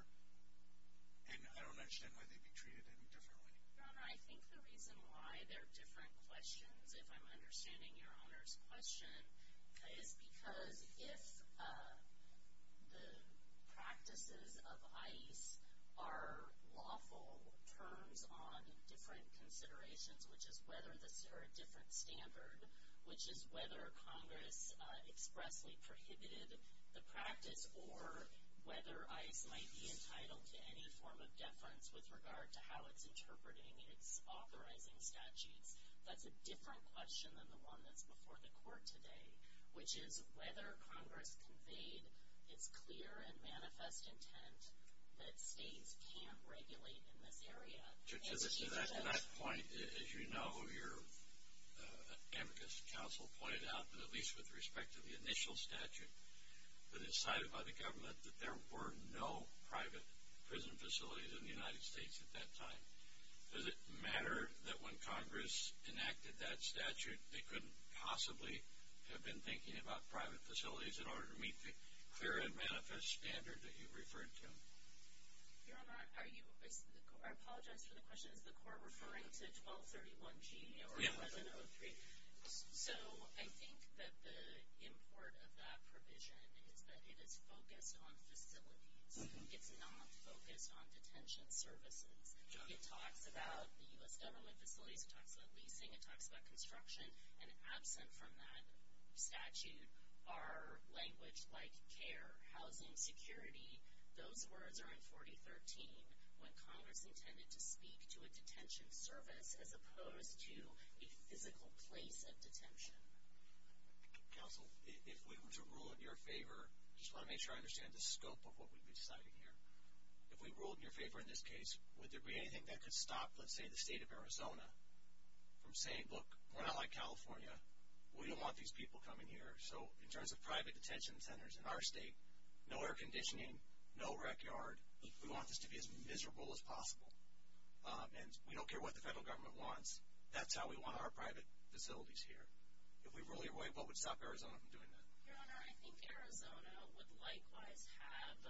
and I don't understand why they could treat it any differently. Your Honor, I think the reason why they're different questions, if I'm understanding Your Honor's question, is because if the practices of ICE are lawful terms on different considerations, which is whether there are different standards, which is whether Congress expressly prohibited the practice, or whether ICE might be entitled to any form of deference with regard to how it's interpreting its authorizing statute. That's a different question than the one that's before the Court today, which is whether Congress conveyed its clear and manifest intent that states can't regulate in this area. To that point, as you know, your amicus counsel pointed out that at least with respect to the initial statute, it was decided by the government that there were no private prison facilities in the United States at that time. Does it matter that when Congress enacted that statute, they couldn't possibly have been thinking about private facilities in order to meet the clear and manifest standard that you referred to? Your Honor, I apologize for the question. Is the Court referring to 1231G or 1203? So I think that the import of that provision is that it is focused on facilities. It's not focused on detention services. It talks about the U.S. government employees, it talks about leasing, it talks about construction, and absent from that statute are language like care, housing, security, those words are in 4013 when Congress intended to speak to a detention servant as opposed to a physical place of detention. Counsel, if we were to rule in your favor, I just want to make sure I understand the scope of what we would be citing here. If we ruled in your favor in this case, would there be anything that could stop, let's say, the state of Arizona from saying, look, we're not like California. We don't want these people coming here. So in terms of private detention centers in our state, no air conditioning, no rec yard, we want this to be as miserable as possible. And we don't care what the federal government wants. That's how we want our private facilities here. If we ruled in your favor, what would stop Arizona from doing that? Your Honor, I think Arizona would likewise have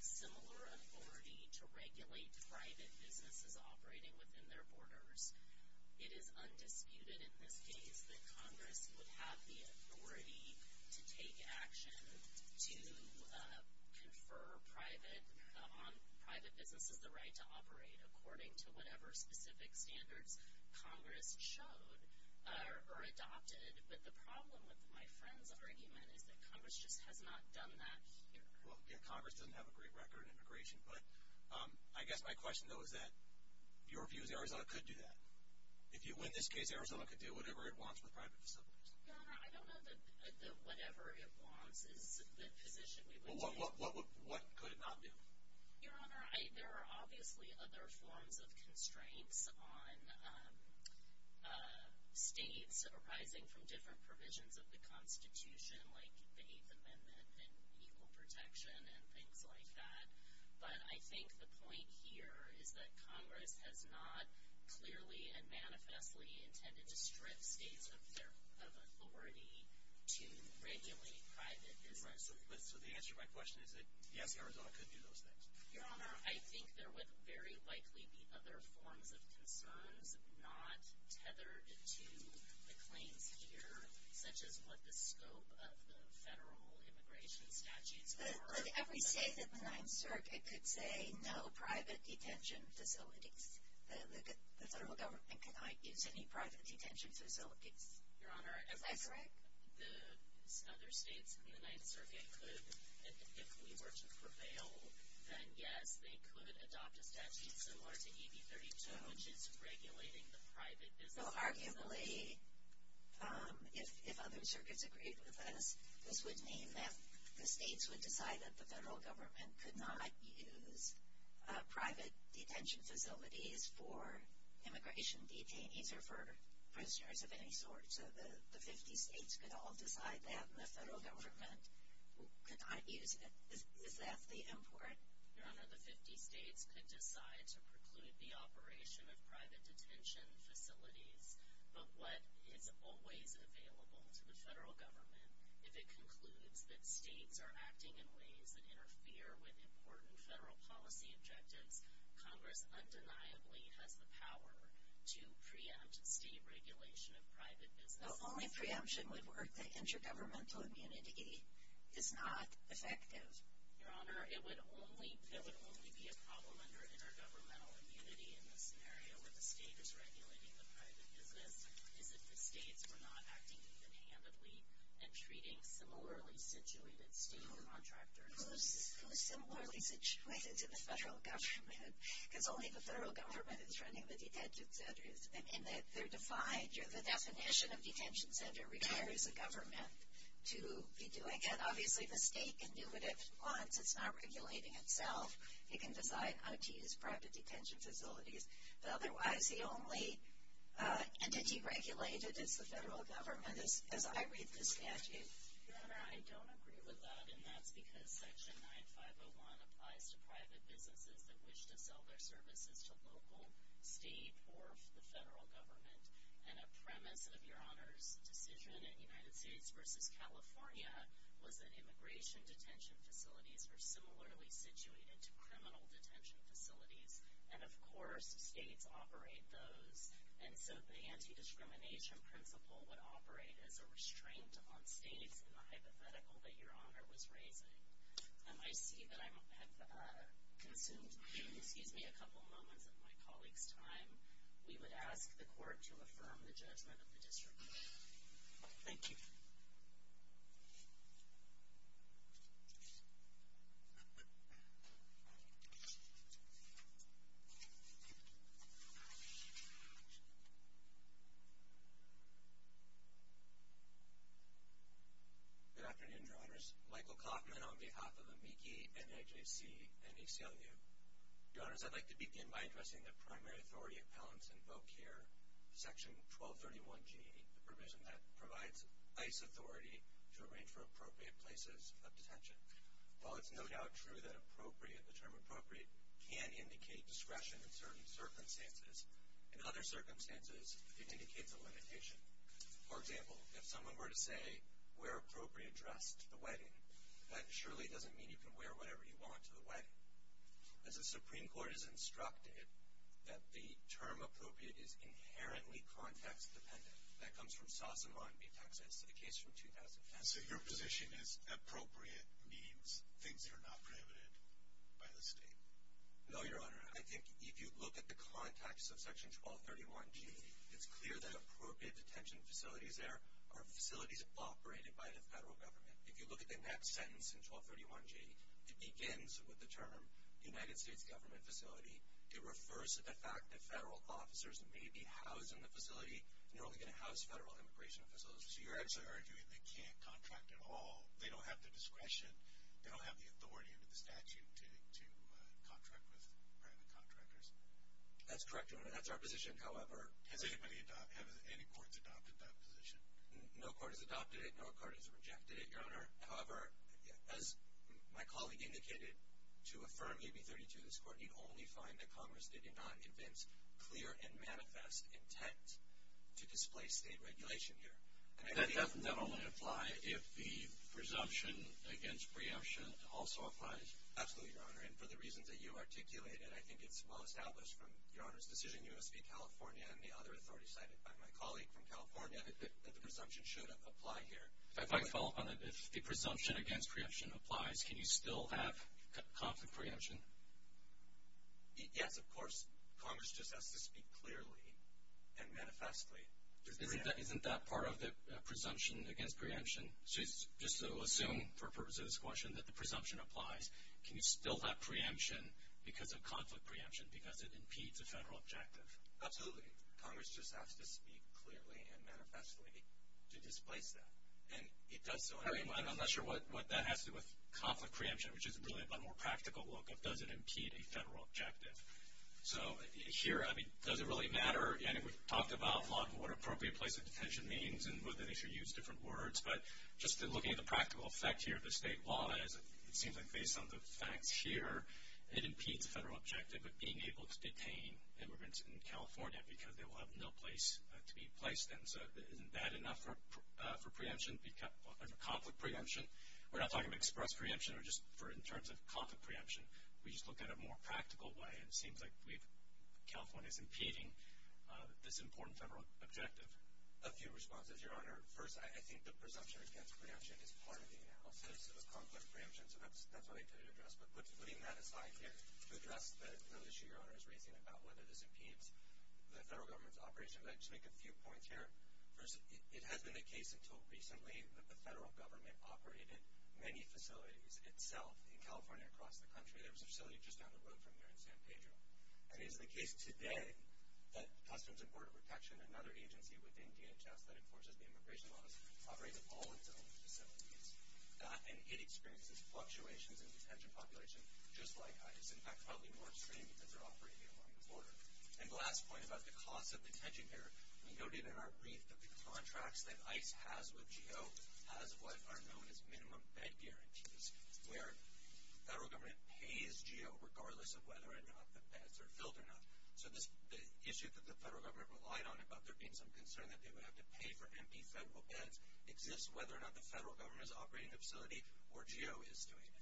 similar authority to regulate private businesses operating within their borders. It is undisputed in this case that Congress would have the authority to take action to confer on private businesses the right to operate according to whatever specific standards Congress showed or adopted. But the problem with my friend's argument is that Congress just has not done that. Well, Congress doesn't have a great record on immigration. But I guess my question, though, is that your view is Arizona could do that. If you win this case, Arizona could do whatever it wants for private facilities. Your Honor, I don't know that whatever it wants is the position. What could it not do? Your Honor, there are obviously other forms of constraints on states arising from different provisions of the Constitution, like the Eighth Amendment and equal protection and things like that. But I think the point here is that Congress has not clearly and manifestly intended to strip states of their authority to regulate private businesses. So the answer to my question is that, yes, Arizona could do those things. Your Honor, I think there would very likely be other forms of concerns not tethered to the claim here, such as with the scope of the federal immigration statute. Every state that's in the Ninth Circuit could say no private detention facilities. The federal government cannot use any private detention facilities. Your Honor, the other states in the Ninth Circuit could, if it were to prevail, then, yes, they could adopt a statute similar to AB 32, which is regulating the private business. So, arguably, if other circuits agreed to this, this would mean that the states would decide that the federal government could not use private detention facilities for immigration detainees or for prisoners of any sort. So the 15 states could all decide that, and the federal government could not use it. Is that the import? Your Honor, the 15 states could decide to preclude the operation of private detention facilities, but what is always available to the federal government, if it concludes that states are acting in ways that interfere with important federal policy objectives, Congress undeniably has the power to preempt the regulation of private detention. So only preemption would work. The intergovernmental immunity is not effective. Your Honor, it would only be a problem under intergovernmental immunity in the scenario where the state is regulating the private system, if the states were not acting even haphazardly and treating similarly situated state-owned contract journalists as really similarly situated to the federal government, because only the federal government is running the detention centers, and that they're defined through the definition of detention center requires the government to be doing it. Obviously, the state can do what it wants. It's not regulating itself. It can decide how to treat its private detention facilities. Otherwise, the only entity regulated is the federal government, as I read this statute. Your Honor, I don't agree with that, and that's because Section 9501 applies to private businesses that wish to sell their services to local state or the federal government. And a premise of Your Honor's decision in the United States versus California was that immigration detention facilities were similarly situated to criminal detention facilities. And, of course, states operate those, and so the anti-discrimination principle would operate as a restraint on states. It's not hypothetical that Your Honor was raising. I see that I've consumed a couple moments of my colleague's time. We would ask the Court to affirm the judgment of the distribution. Thank you. Thank you. Good afternoon, Your Honors. Michael Coffman on behalf of the MIECHI, NIJC, and HCLU. Your Honors, I'd like to begin by addressing the primary authority of Palents in Vocare, Section 1231G8, the provision that provides ICE authority to arrange for appropriate places of detention. While it's no doubt true that appropriate, the term appropriate, can indicate discretion in certain circumstances, in other circumstances it can indicate the limitation. For example, if someone were to say, wear appropriate dress to the wedding, that surely doesn't mean you can wear whatever you want to the wedding. As the Supreme Court has instructed, that the term appropriate is inherently context-dependent. That comes from Sassabon v. Texas to the case from 2010. So your position is appropriate means things that are not prohibited by the state? No, Your Honor. I think if you look at the context of Section 1231G8, it's clear that appropriate detention facilities there are facilities operated by the federal government. If you look at the next sentence in 1231G8, it begins with the term, United States government facility. It refers to the fact that federal officers may be housed in the facility. You're only going to house federal immigration officials. So you're actually arguing they can't contract at all, they don't have the discretion, they don't have the authority under the statute to contract with private contractors? That's correct, Your Honor. That's our position. However, can anybody adopt, have any courts adopted that position? No court has adopted it. No court has rejected it, Your Honor. However, as my colleague indicated, to affirm KB 32 in this court, we only find that Congress did not give its clear and manifest intent to displace state regulation here. That doesn't, then, only apply if the presumption against preemption also applies? Absolutely, Your Honor, and for the reasons that you articulated, I think it's well-established from, Your Honor, the suit in U.S. v. California and the other authority cited by my colleague from California that the presumption shouldn't apply here. If I could follow up on that. If the presumption against preemption applies, can you still have conflict preemption? Yes, of course. Congress just has to speak clearly and manifestly. Isn't that part of the presumption against preemption? Just to assume, for the purpose of this question, that the presumption applies, can you still have preemption because of conflict preemption because it impedes a federal objective? Absolutely. Congress just has to speak clearly and manifestly to displace that. And it does so. I mean, I'm not sure what that has to do with conflict preemption, which is really a more practical look at does it impede a federal objective. So here, I mean, does it really matter? Again, we've talked about what an appropriate place of detention means and whether they should use different words. But just looking at the practical effect here, the statewide, it seems like based on the fact here, it impedes a federal objective of being able to detain immigrants in California because they will have no place to be placed in. So isn't that enough for conflict preemption? We're not talking about express preemption or just in terms of conflict preemption. We just look at it in a more practical way. It seems like California is impeding this important federal objective. A few responses, Your Honor. First, I think the presumption against preemption is part of the analysis of conflict preemption, so that's what I intended to address. But putting that aside here to address the issue Your Honor is raising about whether it impedes the federal government's operation, I'd just make a few points here. First, it hasn't been the case until recently that the federal government operated many facilities itself in California and across the country. There was a facility just down the road from here in San Pedro. It is the case today that the Customs and Border Protection, another agency within DHS that enforces the immigration laws, operates all of those facilities. And it experiences fluctuations in detention populations, just like it's been found in North Korea because they're operating on the border. And the last point about the cost of detention here, we noted in our brief that the contracts that ICE has with GEO has what are known as minimum bed guarantees, where the federal government pays GEO regardless of whether or not the beds are filled or not. So the issue that the federal government relied on about there being some concern that they would have to pay for empty federal beds exists whether or not the federal government is operating the facility or GEO is doing it.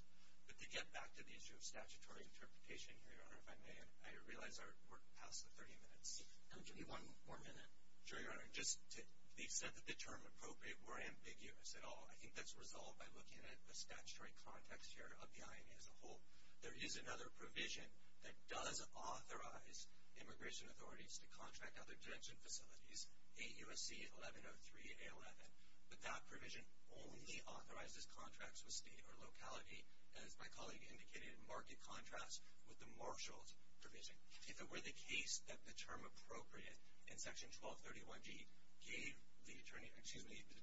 But to get back to the issue of statutory interpretation here, Your Honor, if I may, I realize our report passed the 30 minutes. Can we give you one more minute? Sure, Your Honor. Just to the extent that the term appropriate were ambiguous at all, I think that's a result by looking at the statutory context here of the INA as a whole. There is another provision that does authorize immigration authorities to contract other detention facilities, AUSC 1103A11. But that provision only authorizes contracts with state or locality, as my colleague indicated, in marked contrast with the marshals provision. If it were the case that the term appropriate in Section 1231G gave the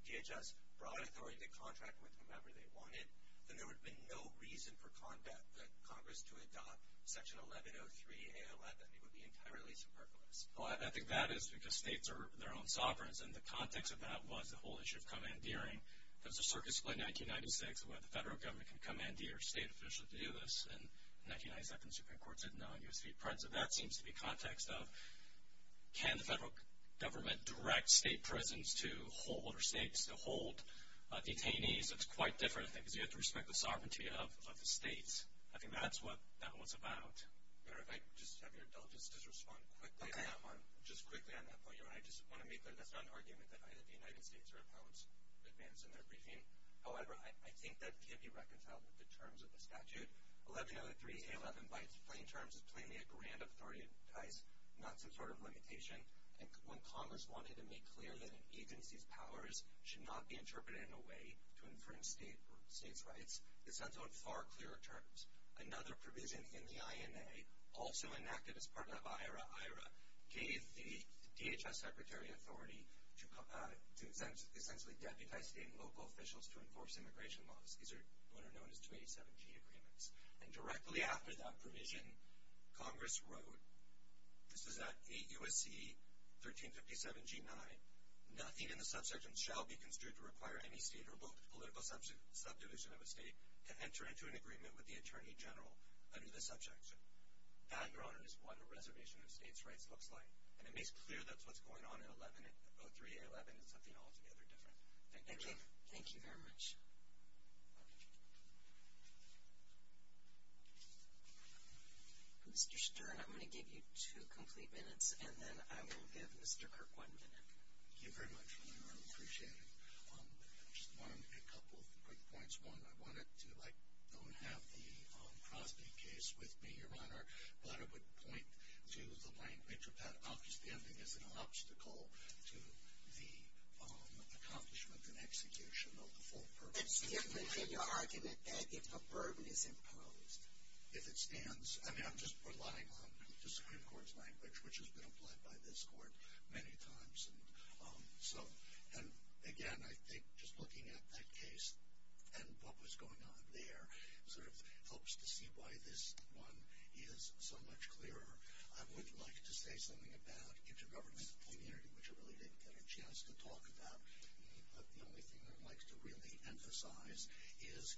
DHS broad authority to contract with whomever they wanted, then there would be no reason for Congress to adopt Section 1103A11. It would be entirely superfluous. Well, I think that is because states are their own sovereigns, and the context of that was the whole issue of commandeering. There was a service in 1996 where the federal government could commandeer state officials to do this, and in 1997, Supreme Court said no, you're a state president. That seems to be context of can the federal government direct state presidents to hold, or states to hold detainees. It's quite different, I think, because you have to respect the sovereignty of the states. I think that's what that one's about. I don't know if I just have your indulgence as a response. I have one, just quickly. I just want to make that that's not an argument that either the United States or Congress would advance in their briefing. However, I think that can be reconciled with the terms of the statute. 1103A11 by its plain terms is 28 grand authorized, not some sort of limitation, and when Congress wanted to make clear that an agency's powers should not be interpreted in a way to infringe states' rights, it sets out far clearer terms. Another provision in the INA, also enacted as part of IHRA, gave the DHS Secretary of Authority to essentially deputize state and local officials to enforce immigration laws. These are what are known as 287G agreements. And directly after that provision, Congress wrote, this was at AUSC 1357G9, not even a subsection shall be construed to require any state or political subdivision of a state to enter into an agreement with the Attorney General under the subject. That, Your Honor, is what a reservation of states' rights looks like, and it makes clear that's what's going on in 1103A11 and something altogether different. Thank you. Thank you very much. Mr. Stern, I'm going to give you two complete minutes, and then I'm going to give Mr. Kirk one minute. Thank you very much. I appreciate it. I just wanted a couple quick points. One, I don't have the Crosby case with me, Your Honor, but I would point to the language of that outstanding as an obstacle to the accomplishment and execution of the full purpose. Excuse me. Could you argue that that is a verbatim clause? If it stands. I mean, I'm just relying on the Supreme Court's language, which has been applied by this Court many times. And, again, I think just looking at that case and what was going on there sort of helps to see why this one is so much clearer. I would like to say something about intergovernmental community, which I really didn't get a chance to talk about, but the only thing I'd like to really emphasize is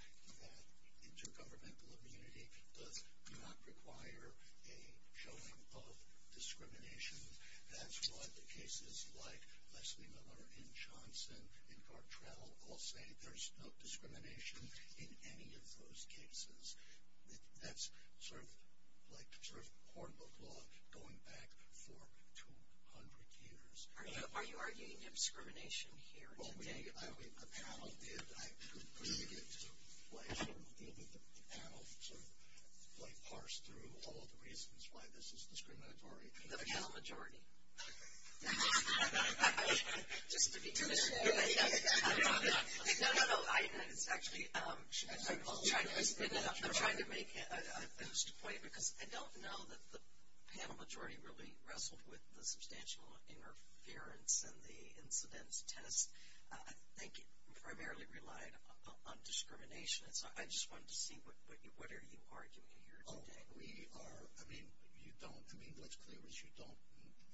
intergovernmental community does not require a showing of discrimination. That's why the cases like Leslie Miller and Johnson and Bartrell all say there's no discrimination in any of those cases. That's sort of like sort of horrible thought going back for 200 years. Are you arguing discrimination here? Well, I believe the panel did. I couldn't really get to what happened. Maybe the panel sort of like parsed through all the reasons why this is discriminatory. The panel majority. I'm sorry. No, no, no. I'm trying to make a point because I don't know that the panel majority really wrestled with the substantial interference in the incidence test. I think it primarily relied on discrimination. So I just wanted to see what are you arguing here today? We are, I mean, you don't. I mean, there's clear as you don't.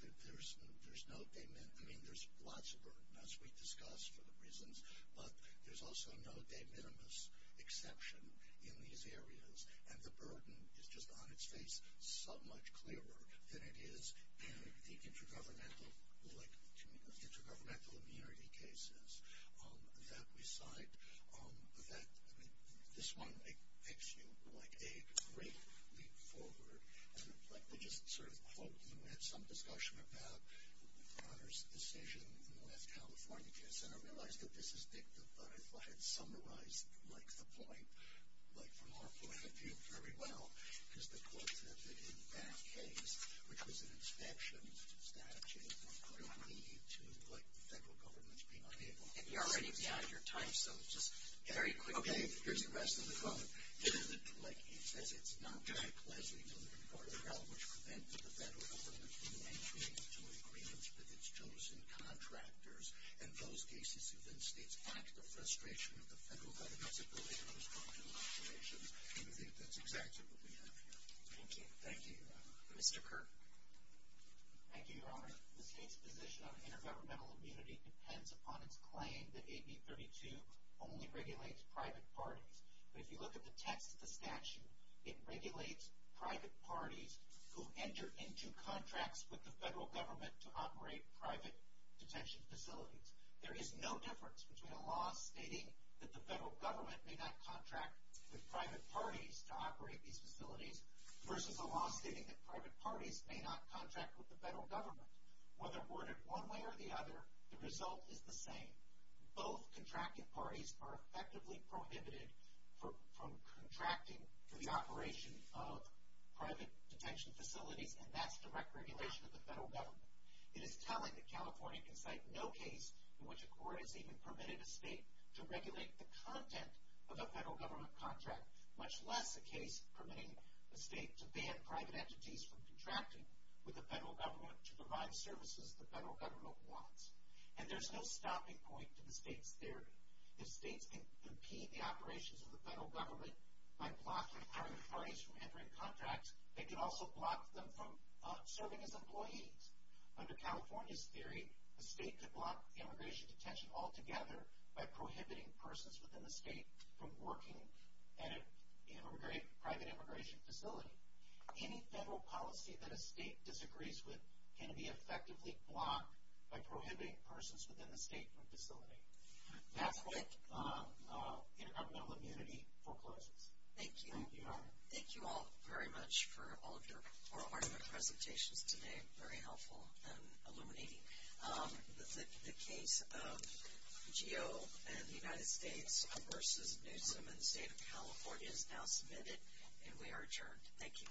There's no, I mean, there's lots of, as we discussed, of reasons, but there's also no de minimis exception in these areas, and the burden is just on its face so much clearer than it is in the intergovernmental immunity cases that we cite. This one makes you like a great leap forward. I just sort of quote you in some discussion about the governor's decision when California gets in. I realize that this is big, but I'd like to summarize the point. Like from our point of view, very well. Because the question is in that case, which was an exception to the statutes, there's clearly a need to put federal governments behind it. You're right. You're right. You're tight, so just very quick. Okay, here's the rest of the quote. In the neglect case, it says, it's not very pleasant to be in the department of health, which prevents the federal government from entering into an agreement with its chosen contractors. In those cases, it states, I'm in frustration with the federal government's ability to respond to violations, and I think that's exactly what we have here. Thank you. Mr. Kirk? Thank you, Your Honor. The case position on intergovernmental immunity depends upon the claim that AB 32 only regulates private parties. If you look at the text of the statute, it regulates private parties who enter into contracts with the federal government to operate private detention facilities. There is no difference between a law stating that the federal government may not contract with private parties to operate these facilities versus a law stating that private parties may not contract with the federal government. Whether worded one way or the other, the result is the same. Both contracting parties are effectively prohibited from contracting for the operation of private detention facilities, and that's direct regulation of the federal government. It is telling that California can cite no case in which a court has even permitted a state to regulate the content of a federal government contract, much less a case permitting the state to ban private entities from contracting with the federal government to provide services the federal government wants. And there's no stopping point to the state's theory. The state can impede the operations of the federal government by blocking private parties from entering contracts. It can also block them from serving as employees. Under California's theory, the state could block immigration detention altogether by prohibiting persons within the state from working at a private immigration facility. Any federal policy that a state disagrees with can be effectively blocked by prohibiting persons within the state from facilitating. That's it. I have no immunity. Over. Thank you. Thank you all very much for all of your informative presentations today. Very helpful and illuminating. The case of GEO in the United States versus the state of California is now submitted, and we are adjourned. Thank you. Thank you.